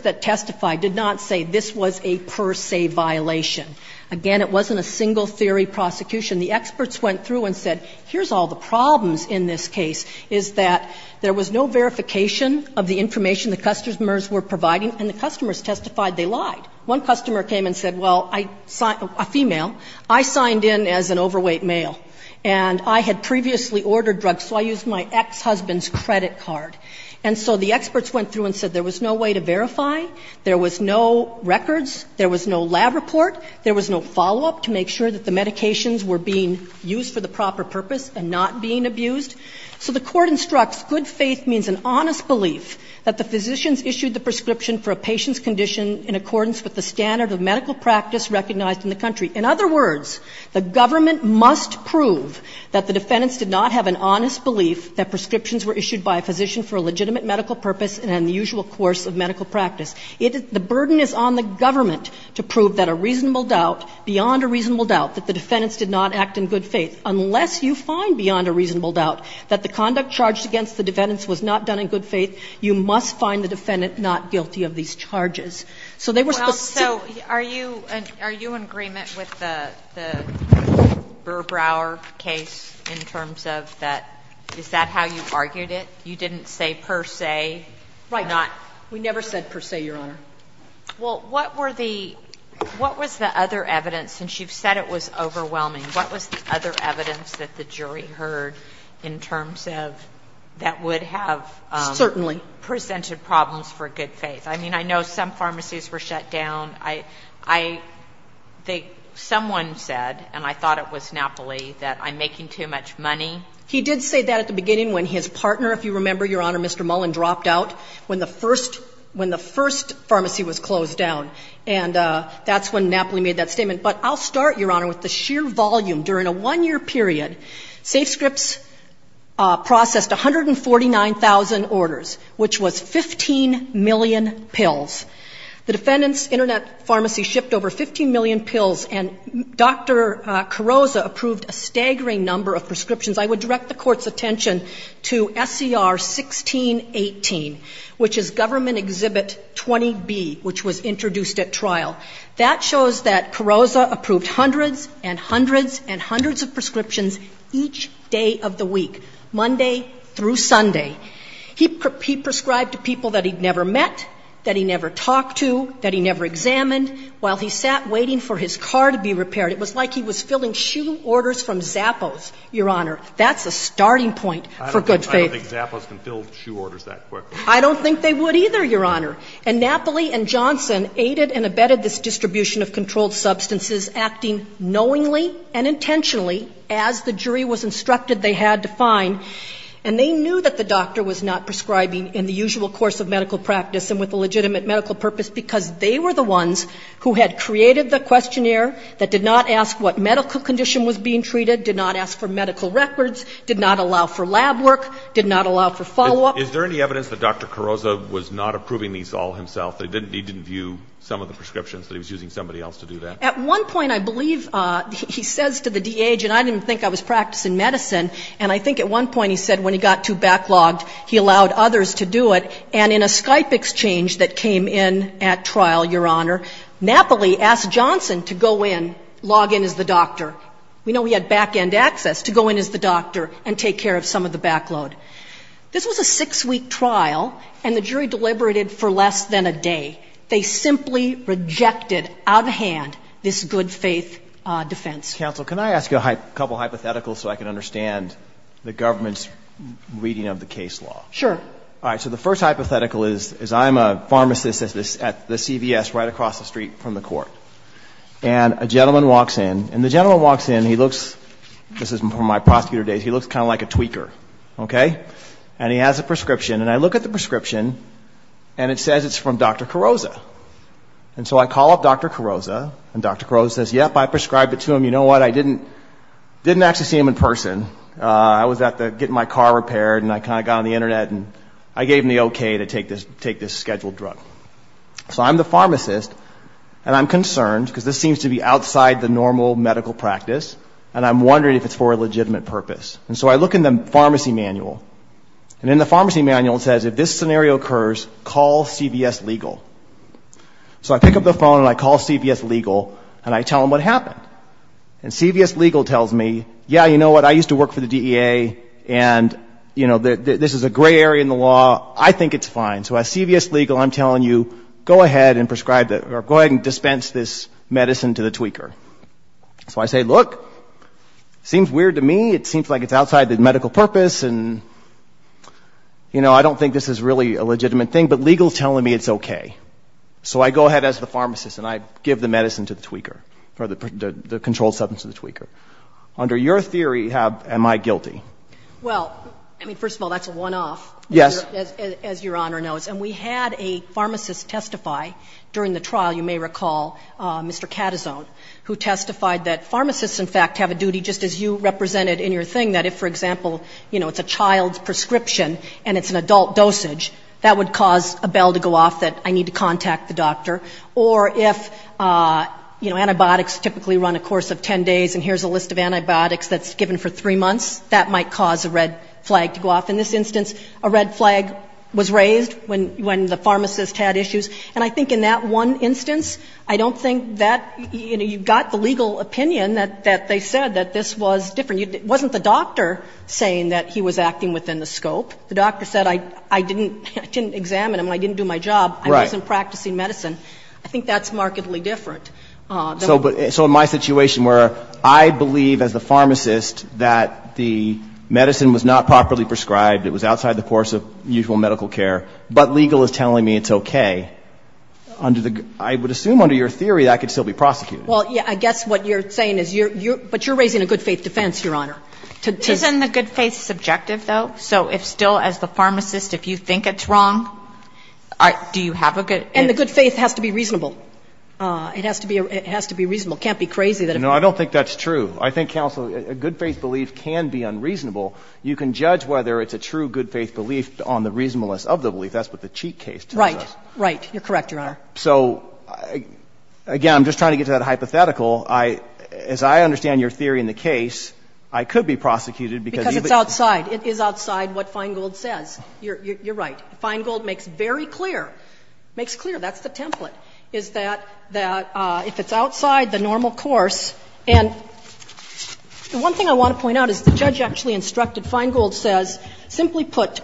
that testify did not say this was a per se violation. Again, it wasn't a single theory prosecution. The experts went through and said here's all the problems in this case is that there was no verification of the information the customers were providing, and the customers testified they lied. One customer came and said, well, a female, I signed in as an overweight male, and I had previously ordered drugs, so I used my ex-husband's credit card. And so the experts went through and said there was no way to verify, there was no records, there was no lab report, there was no follow-up to make sure that the medications were being used for the proper purpose and not being abused. So the Court instructs good faith means an honest belief that the physicians issued the prescription for a patient's condition in accordance with the standard of medical practice recognized in the country. In other words, the government must prove that the defendants did not have an honest belief that prescriptions were issued by a physician for a legitimate medical purpose and in the usual course of medical practice. The burden is on the government to prove that a reasonable doubt, beyond a reasonable doubt that the defendants did not act in good faith, unless you find beyond a reasonable doubt that the conduct charged against the defendants was not done in good faith, you must find the defendant not guilty of these charges. So they were specific. Kagan. So are you in agreement with the Burr-Brower case in terms of that, is that how you argued it? You didn't say per se. Right. We never said per se, Your Honor. Well, what were the, what was the other evidence, since you've said it was overwhelming, what was the other evidence that the jury heard in terms of that would have Certainly. Presented problems for good faith? I mean, I know some pharmacies were shut down. I, I, they, someone said, and I thought it was Napoli, that I'm making too much money. He did say that at the beginning when his partner, if you remember, Your Honor, Mr. Mullen dropped out when the first, when the first pharmacy was closed down. And that's when Napoli made that statement. But I'll start, Your Honor, with the sheer volume. During a one-year period, SafeScripts processed 149,000 orders, which was 15 million pills. The defendants' internet pharmacy shipped over 15 million pills, and Dr. Carozza approved a staggering number of prescriptions. I would direct the Court's attention to SCR 1618, which is Government Exhibit 20B, which was introduced at trial. That shows that Carozza approved hundreds and hundreds and hundreds of prescriptions each day of the week, Monday through Sunday. He prescribed to people that he'd never met, that he'd never talked to, that he'd never examined, while he sat waiting for his car to be repaired. It was like he was filling shoe orders from Zappos, Your Honor. That's a starting point for good faith. I don't think Zappos can fill shoe orders that quickly. I don't think they would either, Your Honor. And Napoli and Johnson aided and abetted this distribution of controlled substances, acting knowingly and intentionally, as the jury was instructed they had to find. And they knew that the doctor was not prescribing in the usual course of medical practice and with a legitimate medical purpose, because they were the ones who had created the questionnaire that did not ask what medical condition was being treated, did not ask for medical records, did not allow for lab work, did not allow for follow-up. Is there any evidence that Dr. Carozza was not approving these all himself, that he didn't view some of the prescriptions, that he was using somebody else to do that? At one point I believe he says to the DH, and I didn't think I was practicing medicine, and I think at one point he said when he got too backlogged, he allowed others to do it. And in a Skype exchange that came in at trial, Your Honor, Napoli asked Johnson to go in, log in as the doctor. We know he had back-end access to go in as the doctor and take care of some of the backload. This was a six-week trial, and the jury deliberated for less than a day. They simply rejected out of hand this good-faith defense. Counsel, can I ask you a couple hypotheticals so I can understand the government's reading of the case law? Sure. All right. So the first hypothetical is I'm a pharmacist at the CVS right across the street from the court. And a gentleman walks in, and the gentleman walks in, and he looks, this is from my prosecutor days, he looks kind of like a tweaker, okay? And he has a prescription, and I look at the prescription, and it says it's from Dr. Carrozza. And so I call up Dr. Carrozza, and Dr. Carrozza says, yep, I prescribed it to him. You know what? I didn't actually see him in person. I was getting my car repaired, and I kind of got on the Internet, and I gave him the okay to take this scheduled drug. So I'm the pharmacist, and I'm concerned because this seems to be outside the normal medical practice, and I'm wondering if it's for a legitimate purpose. And so I look in the pharmacy manual, and in the pharmacy manual it says, if this scenario occurs, call CVS Legal. So I pick up the phone, and I call CVS Legal, and I tell them what happened. And CVS Legal tells me, yeah, you know what? I used to work for the DEA, and, you know, this is a gray area in the law. I think it's fine. So as CVS Legal, I'm telling you, go ahead and dispense this medicine to the tweaker. So I say, look, it seems weird to me. It seems like it's outside the medical purpose, and, you know, I don't think this is really a legitimate thing, but Legal is telling me it's okay. So I go ahead as the pharmacist, and I give the medicine to the tweaker, or the controlled substance to the tweaker. Under your theory, am I guilty? Well, I mean, first of all, that's a one-off. Yes. As Your Honor knows. And we had a pharmacist testify during the trial, you may recall, Mr. Catazon, who testified that pharmacists, in fact, have a duty, just as you represented in your thing, that if, for example, you know, it's a child's prescription and it's an adult dosage, that would cause a bell to go off that I need to contact the doctor. Or if, you know, antibiotics typically run a course of 10 days, and here's a list of antibiotics that's given for 3 months, that might cause a red flag to go off. In this instance, a red flag was raised when the pharmacist had issues. And I think in that one instance, I don't think that, you know, you've got the legal opinion that they said that this was different. It wasn't the doctor saying that he was acting within the scope. The doctor said I didn't examine him, I didn't do my job, I wasn't practicing medicine. I think that's markedly different. So in my situation where I believe as the pharmacist that the medicine was not properly prescribed, it was outside the course of usual medical care, but legal is telling me it's okay, I would assume under your theory that I could still be prosecuted. Well, I guess what you're saying is you're raising a good faith defense, Your Honor. Isn't the good faith subjective, though? So if still, as the pharmacist, if you think it's wrong, do you have a good faith? And the good faith has to be reasonable. It has to be reasonable. It can't be crazy that it's wrong. No, I don't think that's true. I think, Counsel, a good faith belief can be unreasonable. You can judge whether it's a true good faith belief on the reasonableness of the belief. That's what the Cheek case tells us. Right, right. You're correct, Your Honor. So, again, I'm just trying to get to that hypothetical. I, as I understand your theory in the case, I could be prosecuted because you've been. Because it's outside. It is outside what Feingold says. You're right. Feingold makes very clear, makes clear, that's the template, is that if it's outside the normal course. And the one thing I want to point out is the judge actually instructed, Feingold says, simply put, to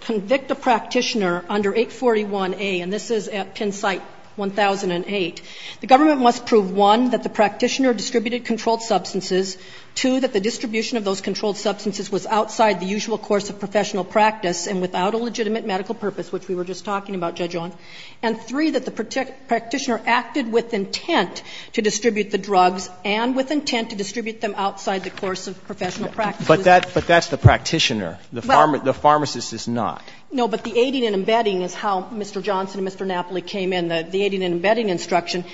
convict a practitioner under 841A, and this is at Penn Site 1008, the government must prove, one, that the practitioner distributed controlled substances, two, that the distribution of those controlled substances was outside the usual course of professional practice and without a legitimate medical purpose, which we were just talking about, Judge Owen, and three, that the practitioner acted with intent to distribute the drugs and with intent to distribute them outside the course of professional practice. But that's the practitioner. The pharmacist is not. No, but the aiding and embedding is how Mr. Johnson and Mr. Napoli came in, the aiding and embedding instruction.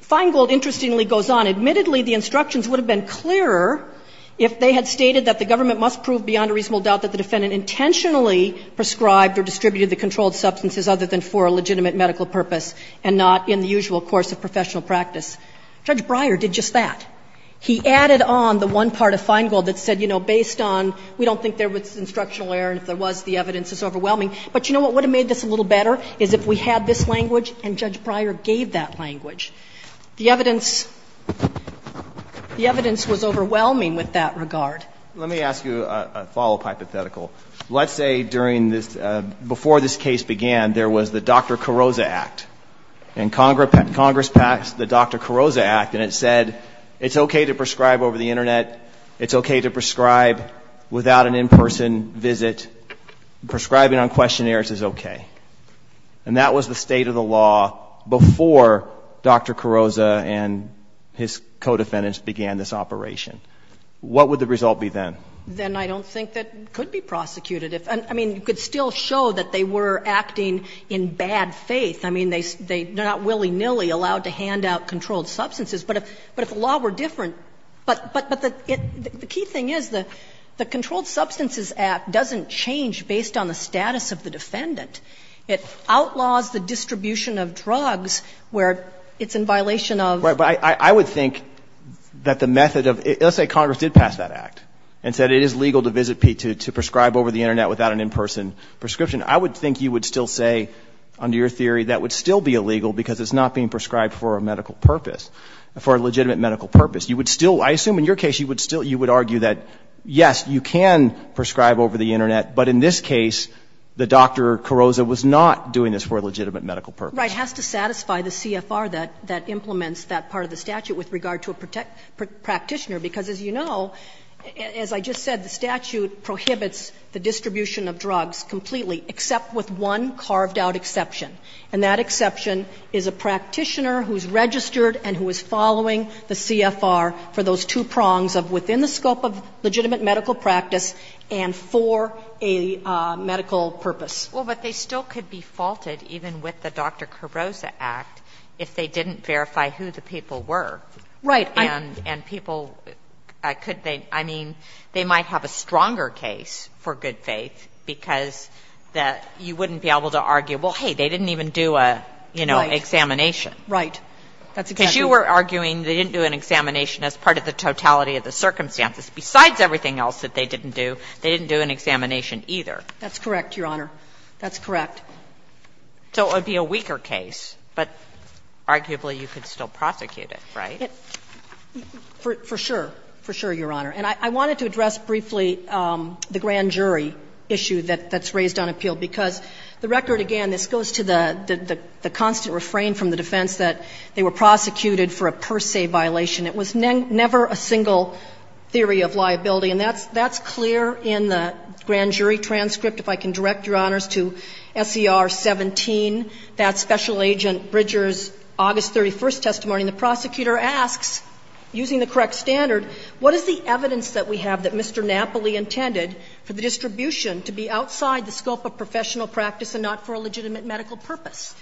Feingold, interestingly, goes on. Admittedly, the instructions would have been clearer if they had stated that the government must prove beyond a reasonable doubt that the defendant intentionally prescribed or distributed the controlled substances other than for a legitimate medical purpose and not in the usual course of professional practice. Judge Breyer did just that. He added on the one part of Feingold that said, you know, based on, we don't think there was instructional error, and if there was, the evidence is overwhelming. But you know what would have made this a little better is if we had this language and Judge Breyer gave that language. The evidence, the evidence was overwhelming with that regard. Let me ask you a follow-up hypothetical. Let's say during this, before this case began, there was the Dr. Carrozza Act. And Congress passed the Dr. Carrozza Act, and it said it's okay to prescribe over the Internet. It's okay to prescribe without an in-person visit. Prescribing on questionnaires is okay. And that was the state of the law before Dr. Carrozza and his co-defendants began this operation. What would the result be then? Then I don't think that it could be prosecuted. I mean, you could still show that they were acting in bad faith. I mean, they're not willy-nilly allowed to hand out controlled substances. But if the law were different, but the key thing is the Controlled Substances Act doesn't change based on the status of the defendant. It outlaws the distribution of drugs where it's in violation of. Right, but I would think that the method of, let's say Congress did pass that Act and said it is legal to visit, to prescribe over the Internet without an in-person prescription. I would think you would still say, under your theory, that would still be illegal because it's not being prescribed for a medical purpose, for a legitimate medical purpose. You would still, I assume in your case, you would argue that, yes, you can prescribe over the Internet, but in this case, the Dr. Carrozza was not doing this for a legitimate medical purpose. Right. It has to satisfy the CFR that implements that part of the statute with regard to a practitioner, because as you know, as I just said, the statute prohibits the distribution of drugs completely, except with one carved-out exception. And that exception is a practitioner who is registered and who is following the CFR for those two prongs of within the scope of legitimate medical practice and for a medical purpose. Well, but they still could be faulted, even with the Dr. Carrozza Act, if they didn't verify who the people were. Right. And people could they, I mean, they might have a stronger case for good faith because that you wouldn't be able to argue, well, hey, they didn't even do a, you know, examination. Right. Because you were arguing they didn't do an examination as part of the totality of the circumstances. Besides everything else that they didn't do, they didn't do an examination That's correct, Your Honor. That's correct. So it would be a weaker case, but arguably you could still prosecute it, right? For sure. For sure, Your Honor. And I wanted to address briefly the grand jury issue that's raised on appeal, because the record, again, this goes to the constant refrain from the defense that they were prosecuted for a per se violation. It was never a single theory of liability, and that's clear in the grand jury transcript. If I can direct, Your Honors, to SCR 17, that special agent Bridger's August 31st testimony, and the prosecutor asks, using the correct standard, what is the evidence that we have that Mr. Napoli intended for the distribution to be outside the scope of professional practice and not for a legitimate medical purpose?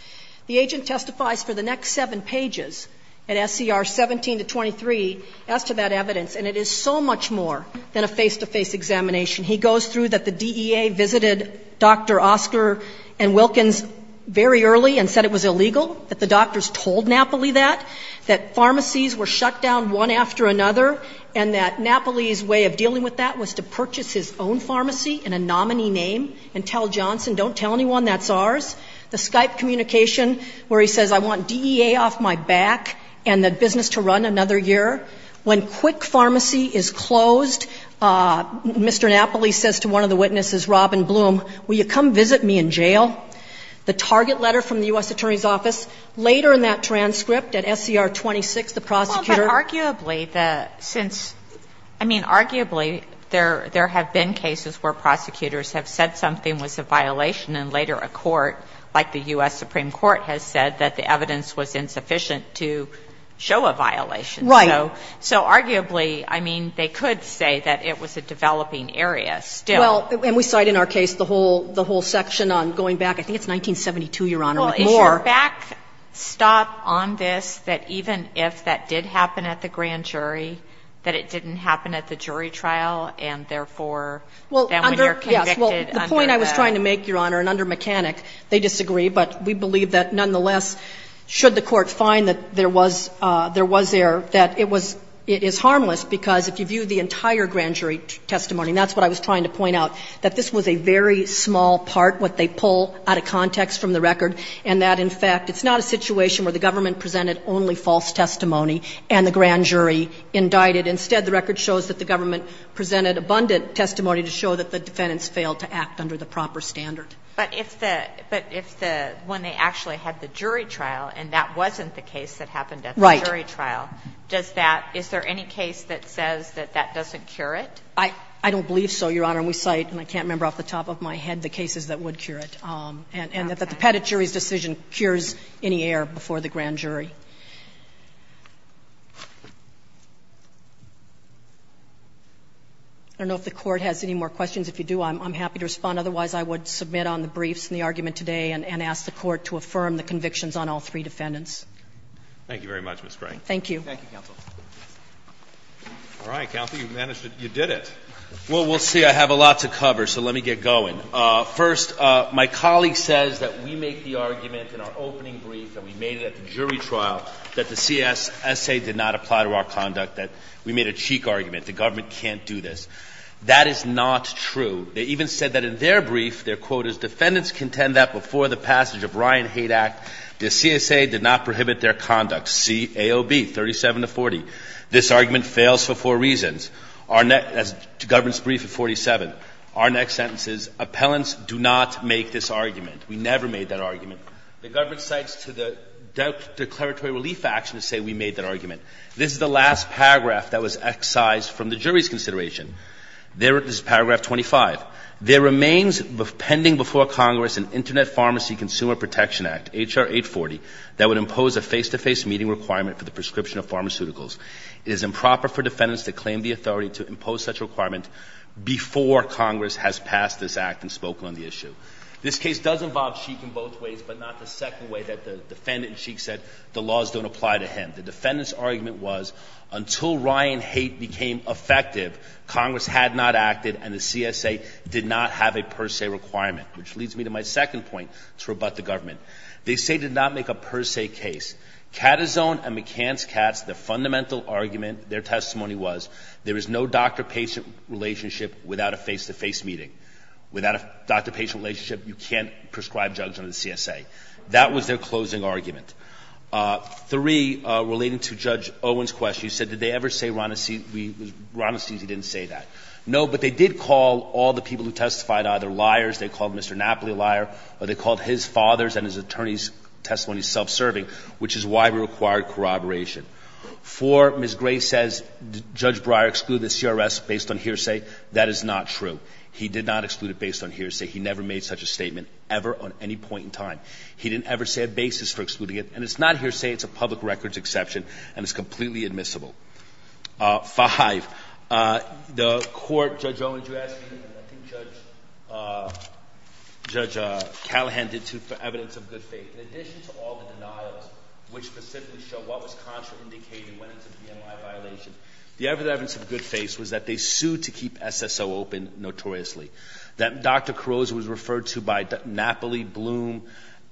The agent testifies for the next seven pages at SCR 17 to 23 as to that evidence, and it is so much more than a face-to-face examination. He goes through that the DEA visited Dr. Oscar and Wilkins very early and said it was illegal, that the doctors told Napoli that, that pharmacies were shut down one after another, and that Napoli's way of dealing with that was to purchase his own pharmacy in a nominee name and tell Johnson, don't tell anyone that's ours. The Skype communication where he says, I want DEA off my back and the business to run another year. When Quick Pharmacy is closed, Mr. Napoli says to one of the witnesses, Robin Bloom, will you come visit me in jail? The target letter from the U.S. Attorney's office. Later in that transcript at SCR 26, the prosecutor ---- Sotomayor, but arguably, since, I mean, arguably, there have been cases where prosecutors have said something was a violation and later a court, like the U.S. Supreme Court, has said that the evidence was insufficient to show a violation. Right. So arguably, I mean, they could say that it was a developing area still. Well, and we cite in our case the whole section on going back, I think it's 1972, Your Honor. Well, is your backstop on this that even if that did happen at the grand jury, that it didn't happen at the jury trial, and therefore, then when you're convicted under the ---- Yes. Well, the point I was trying to make, Your Honor, and under mechanic, they disagree, but we believe that nonetheless, should the court find that there was there, that it was ---- it is harmless, because if you view the entire grand jury testimony, and that's what I was trying to point out, that this was a very small part, what they pull out of context from the record, and that, in fact, it's not a situation where the government presented only false testimony and the grand jury indicted. Instead, the record shows that the government presented abundant testimony to show that the defendants failed to act under the proper standard. But if the ---- but if the ---- when they actually had the jury trial and that wasn't the case that happened at the jury trial, does that ---- is there any case that says that that doesn't cure it? I don't believe so, Your Honor. And we cite, and I can't remember off the top of my head, the cases that would cure it. And that the Petit jury's decision cures any error before the grand jury. I don't know if the Court has any more questions. If you do, I'm happy to respond. Otherwise, I would submit on the briefs and the argument today and ask the Court to affirm the convictions on all three defendants. Thank you very much, Ms. Gray. Thank you. Thank you, counsel. All right, counsel, you managed to ---- you did it. Well, we'll see. I have a lot to cover, so let me get going. First, my colleague says that we make the argument in our opening brief that we made it at the jury trial, that the CSA did not apply to our conduct, that we made a cheek argument, the government can't do this. That is not true. They even said that in their brief, their quote is, defendants contend that before the passage of the Ryan Hate Act, the CSA did not prohibit their conduct, C-A-O-B, 37 to 40. This argument fails for four reasons. Our next ---- the government's brief at 47. Our next sentence is, appellants do not make this argument. We never made that argument. The government cites to the declaratory relief action to say we made that argument. This is the last paragraph that was excised from the jury's consideration. This is paragraph 25. There remains pending before Congress an Internet Pharmacy Consumer Protection Act, H.R. 840, that would impose a face-to-face meeting requirement for the prescription of pharmaceuticals. It is improper for defendants to claim the authority to impose such a requirement before Congress has passed this act and spoken on the issue. This case does involve Sheik in both ways, but not the second way that the defendant and Sheik said the laws don't apply to him. The defendant's argument was, until Ryan Haidt became effective, Congress had not acted and the CSA did not have a per se requirement, which leads me to my second point to rebut the government. They say did not make a per se case. Catazon and McCance-Katz, the fundamental argument, their testimony was, there is no doctor-patient relationship without a face-to-face meeting. Without a doctor-patient relationship, you can't prescribe drugs under the CSA. That was their closing argument. Three, relating to Judge Owen's question, you said, did they ever say Ronacisi didn't say that. No, but they did call all the people who testified either liars, they called Mr. Napoli a liar, or they called his father's and his attorney's testimony self-serving, which is why we required corroboration. Four, Ms. Gray says Judge Breyer excluded the CRS based on hearsay. That is not true. He did not exclude it based on hearsay. He never made such a statement ever on any point in time. He didn't ever say a basis for excluding it, and it's not hearsay. It's a public records exception, and it's completely admissible. Five, the court, Judge Owen, did you ask me, and I think Judge Callahan did too, for evidence of good faith. In addition to all the denials, which specifically show what was contraindicated when it's a VMI violation, the evidence of good faith was that they sued to keep SSO open notoriously. That Dr. Carozza was referred to by Napoli, Bloom,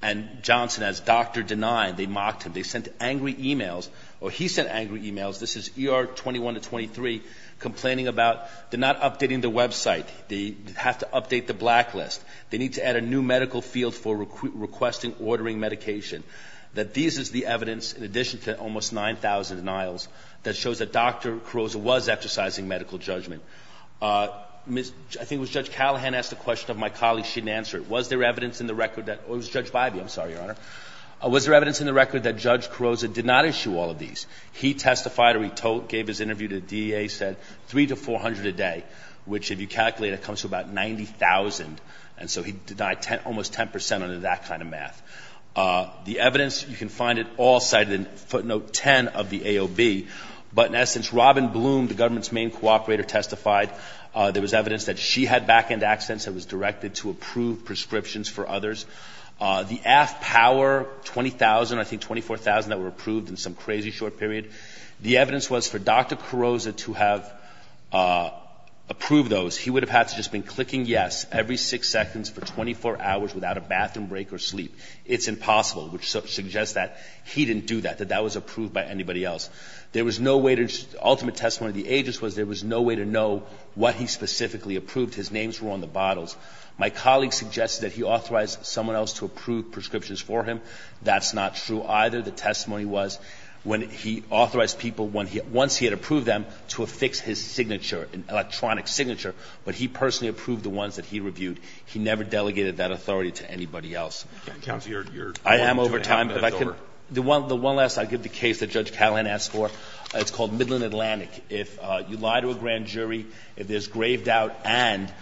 and Johnson as doctor denied. They mocked him. They sent angry e-mails, or he sent angry e-mails, this is ER 21 to 23, complaining about they're not updating the website. They have to update the blacklist. They need to add a new medical field for requesting ordering medication. That this is the evidence, in addition to almost 9,000 denials, that shows that Dr. Carozza was exercising medical judgment. I think it was Judge Callahan asked a question of my colleague. She didn't answer it. Was there evidence in the record that, or it was Judge Bybee, I'm sorry, Your Honor. Was there evidence in the record that Judge Carozza did not issue all of these? He testified, or he gave his interview to the DEA, said 3 to 400 a day, which if you calculate it comes to about 90,000, and so he denied almost 10 percent under that kind of math. The evidence, you can find it all cited in footnote 10 of the AOB, but in essence, Robin Bloom, the government's main cooperator, testified. There was evidence that she had back-end accidents and was directed to approve prescriptions for others. The AFPOWER, 20,000, I think 24,000 that were approved in some crazy short period, the evidence was for Dr. Carozza to have approved those. He would have had to have just been clicking yes every six seconds for 24 hours without a bathroom break or sleep. It's impossible, which suggests that he didn't do that, that that was approved by anybody else. The ultimate testimony of the agents was there was no way to know what he specifically approved. His names were on the bottles. My colleague suggested that he authorized someone else to approve prescriptions for him. That's not true either. The testimony was when he authorized people, once he had approved them, to affix his signature, an electronic signature, but he personally approved the ones that he reviewed. He never delegated that authority to anybody else. I am over time. If I could, the one last, I'll give the case that Judge Callahan asked for. It's called Midland Atlantic. If you lie to a grand jury, if there's grave doubt, and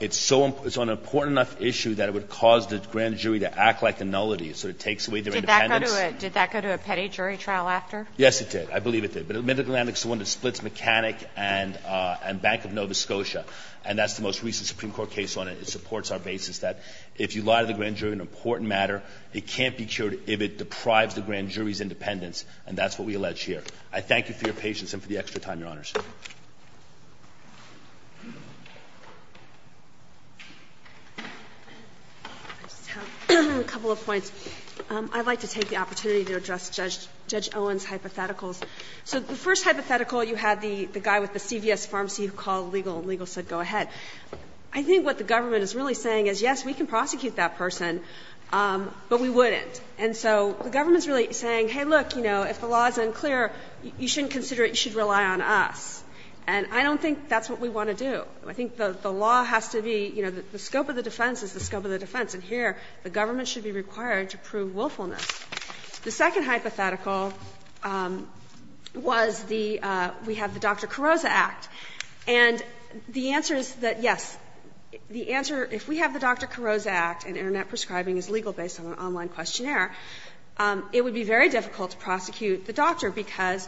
it's on an important enough issue that it would cause the grand jury to act like a nullity, so it takes away their independence. Did that go to a petty jury trial after? Yes, it did. I believe it did. But Midland Atlantic is the one that splits Mechanic and Bank of Nova Scotia, and that's the most recent Supreme Court case on it. It supports our basis that if you lie to the grand jury on an important matter, it can't be cured if it deprives the grand jury's independence, and that's what we allege here. I thank you for your patience and for the extra time, Your Honors. I just have a couple of points. I'd like to take the opportunity to address Judge Owen's hypotheticals. So the first hypothetical, you had the guy with the CVS pharmacy who called legal and legal said go ahead. I think what the government is really saying is, yes, we can prosecute that person, but we wouldn't. And so the government is really saying, hey, look, you know, if the law is unclear, you shouldn't consider it, you should rely on us. And I don't think that's what we want to do. I think the law has to be, you know, the scope of the defense is the scope of the defense, and here the government should be required to prove willfulness. The second hypothetical was the we have the Dr. Carroza Act. And the answer is that, yes, the answer, if we have the Dr. Carroza Act and Internet prescribing is legal based on an online questionnaire, it would be very difficult to prosecute the doctor because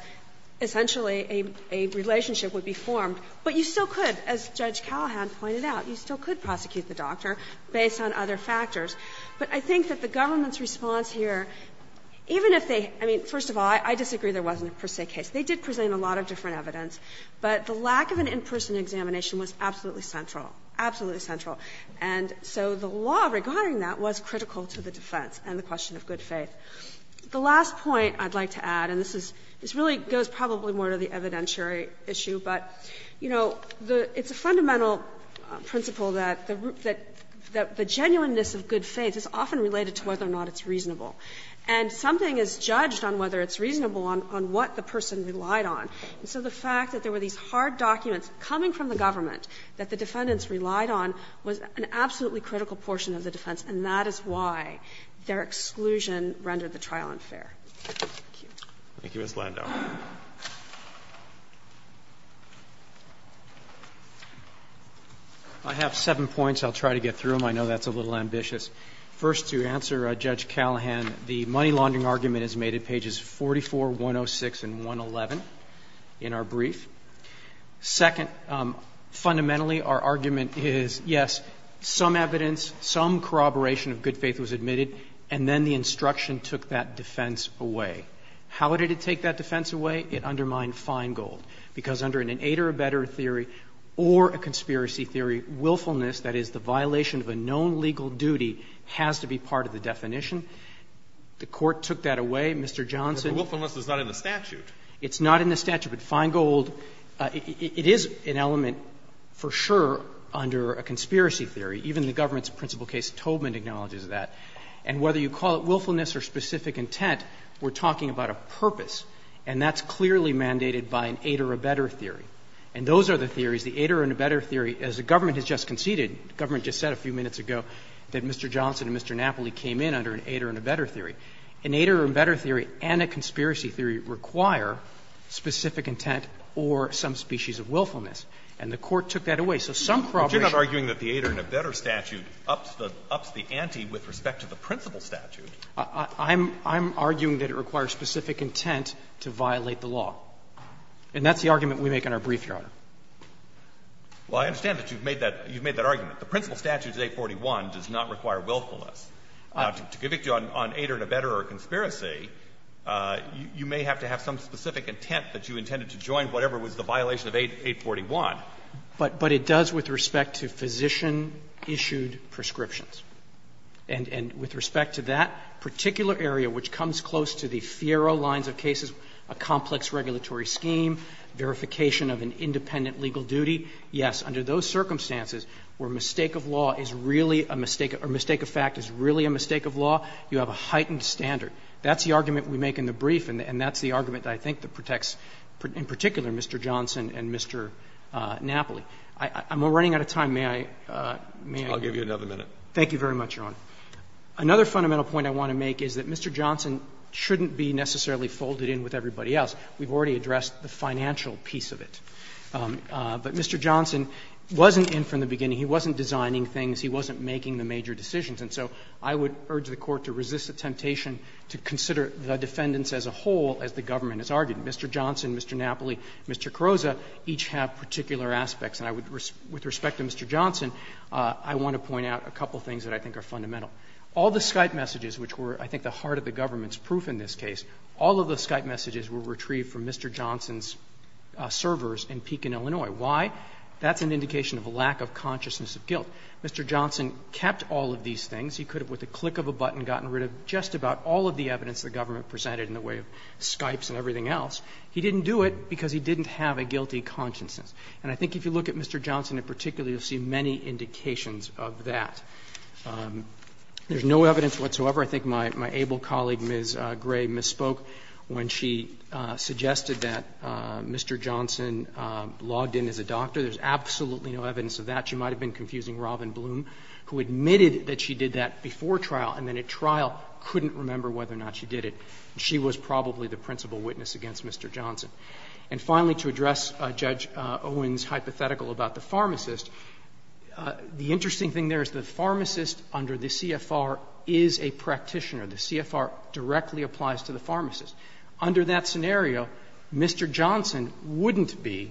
essentially a relationship would be formed. But you still could, as Judge Callahan pointed out, you still could prosecute the doctor based on other factors. But I think that the government's response here, even if they — I mean, first of all, I disagree there wasn't a per se case. They did present a lot of different evidence. But the lack of an in-person examination was absolutely central, absolutely central. And so the law regarding that was critical to the defense and the question of good faith. The last point I'd like to add, and this is — this really goes probably more to the evidentiary issue, but, you know, the — it's a fundamental principle that the — that the genuineness of good faith is often related to whether or not it's reasonable. And something is judged on whether it's reasonable on what the person relied on. And so the fact that there were these hard documents coming from the government that the defendants relied on was an absolutely critical portion of the defense. And that is why their exclusion rendered the trial unfair. Thank you. Thank you, Ms. Landau. I have seven points. I'll try to get through them. I know that's a little ambitious. First, to answer Judge Callahan, the money laundering argument is made at pages 44, 106, and 111 in our brief. Second, fundamentally, our argument is, yes, some evidence, some corroboration of good faith was admitted, and then the instruction took that defense away. How did it take that defense away? It undermined Feingold, because under an aid or abettor theory or a conspiracy theory, willfulness, that is, the violation of a known legal duty, has to be part of the definition. The Court took that away. Mr. Johnson — But willfulness is not in the statute. It's not in the statute. But Feingold, it is an element, for sure, under a conspiracy theory. Even the government's principal case, Tobin, acknowledges that. And whether you call it willfulness or specific intent, we're talking about a purpose, and that's clearly mandated by an aid or abettor theory. And those are the theories, the aid or abettor theory. As the government has just conceded, the government just said a few minutes ago that Mr. Johnson and Mr. Napoli came in under an aid or abettor theory. An aid or abettor theory and a conspiracy theory require specific intent or some species of willfulness. And the Court took that away. So some corroboration— But you're not arguing that the aid or abettor statute ups the ante with respect to the principal statute. I'm arguing that it requires specific intent to violate the law. And that's the argument we make in our brief, Your Honor. Well, I understand that you've made that argument. The principal statute of 841 does not require willfulness. To convict you on aid or abettor or conspiracy, you may have to have some specific intent that you intended to join whatever was the violation of 841. But it does with respect to physician-issued prescriptions. And with respect to that particular area which comes close to the FIERA lines of cases, a complex regulatory scheme, verification of an independent legal duty, yes, under those circumstances where mistake of law is really a mistake or mistake of fact is really a mistake of law, you have a heightened standard. That's the argument we make in the brief, and that's the argument that I think protects, in particular, Mr. Johnson and Mr. Napoli. I'm running out of time. May I, may I? I'll give you another minute. Thank you very much, Your Honor. Another fundamental point I want to make is that Mr. Johnson shouldn't be necessarily folded in with everybody else. We've already addressed the financial piece of it. But Mr. Johnson wasn't in from the beginning. He wasn't designing things. He wasn't making the major decisions. And so I would urge the Court to resist the temptation to consider the defendants as a whole as the government has argued. Mr. Johnson, Mr. Napoli, Mr. Carrozza each have particular aspects. And I would, with respect to Mr. Johnson, I want to point out a couple of things that I think are fundamental. All the Skype messages which were, I think, the heart of the government's proof in this case, all of the Skype messages were retrieved from Mr. Johnson's servers in Pekin, Illinois. Why? That's an indication of a lack of consciousness of guilt. Mr. Johnson kept all of these things. He could have, with the click of a button, gotten rid of just about all of the evidence the government presented in the way of Skypes and everything else. He didn't do it because he didn't have a guilty consciousness. And I think if you look at Mr. Johnson in particular, you'll see many indications of that. There's no evidence whatsoever. I think my able colleague, Ms. Gray, misspoke when she suggested that Mr. Johnson logged in as a doctor. There's absolutely no evidence of that. She might have been confusing Robin Bloom, who admitted that she did that before trial, and then at trial couldn't remember whether or not she did it. She was probably the principal witness against Mr. Johnson. And finally, to address Judge Owen's hypothetical about the pharmacist, the interesting thing there is the pharmacist under the CFR is a practitioner. The CFR directly applies to the pharmacist. Under that scenario, Mr. Johnson wouldn't be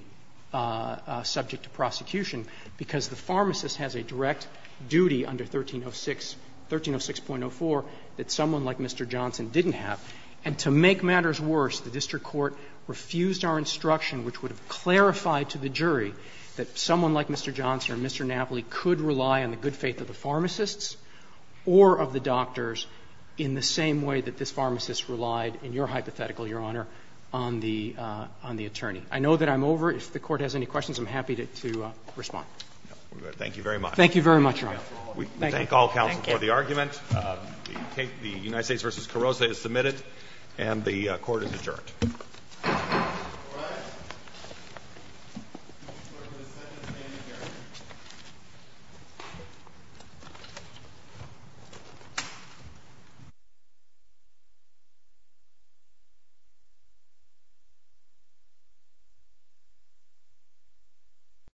subject to prosecution because the pharmacist has a direct duty under 1306, 1306.04 that someone like Mr. Johnson didn't have. And to make matters worse, the district court refused our instruction, which would have clarified to the jury that someone like Mr. Johnson or Mr. Napoli could rely on the good faith of the pharmacists or of the doctors in the same way that this pharmacist relied, in your hypothetical, Your Honor, on the attorney. I know that I'm over. If the Court has any questions, I'm happy to respond. Thank you very much. Thank you very much, Your Honor. We thank all counsel for the argument. Thank you. The United States v. Carrozza is submitted, and the Court is adjourned. All rise.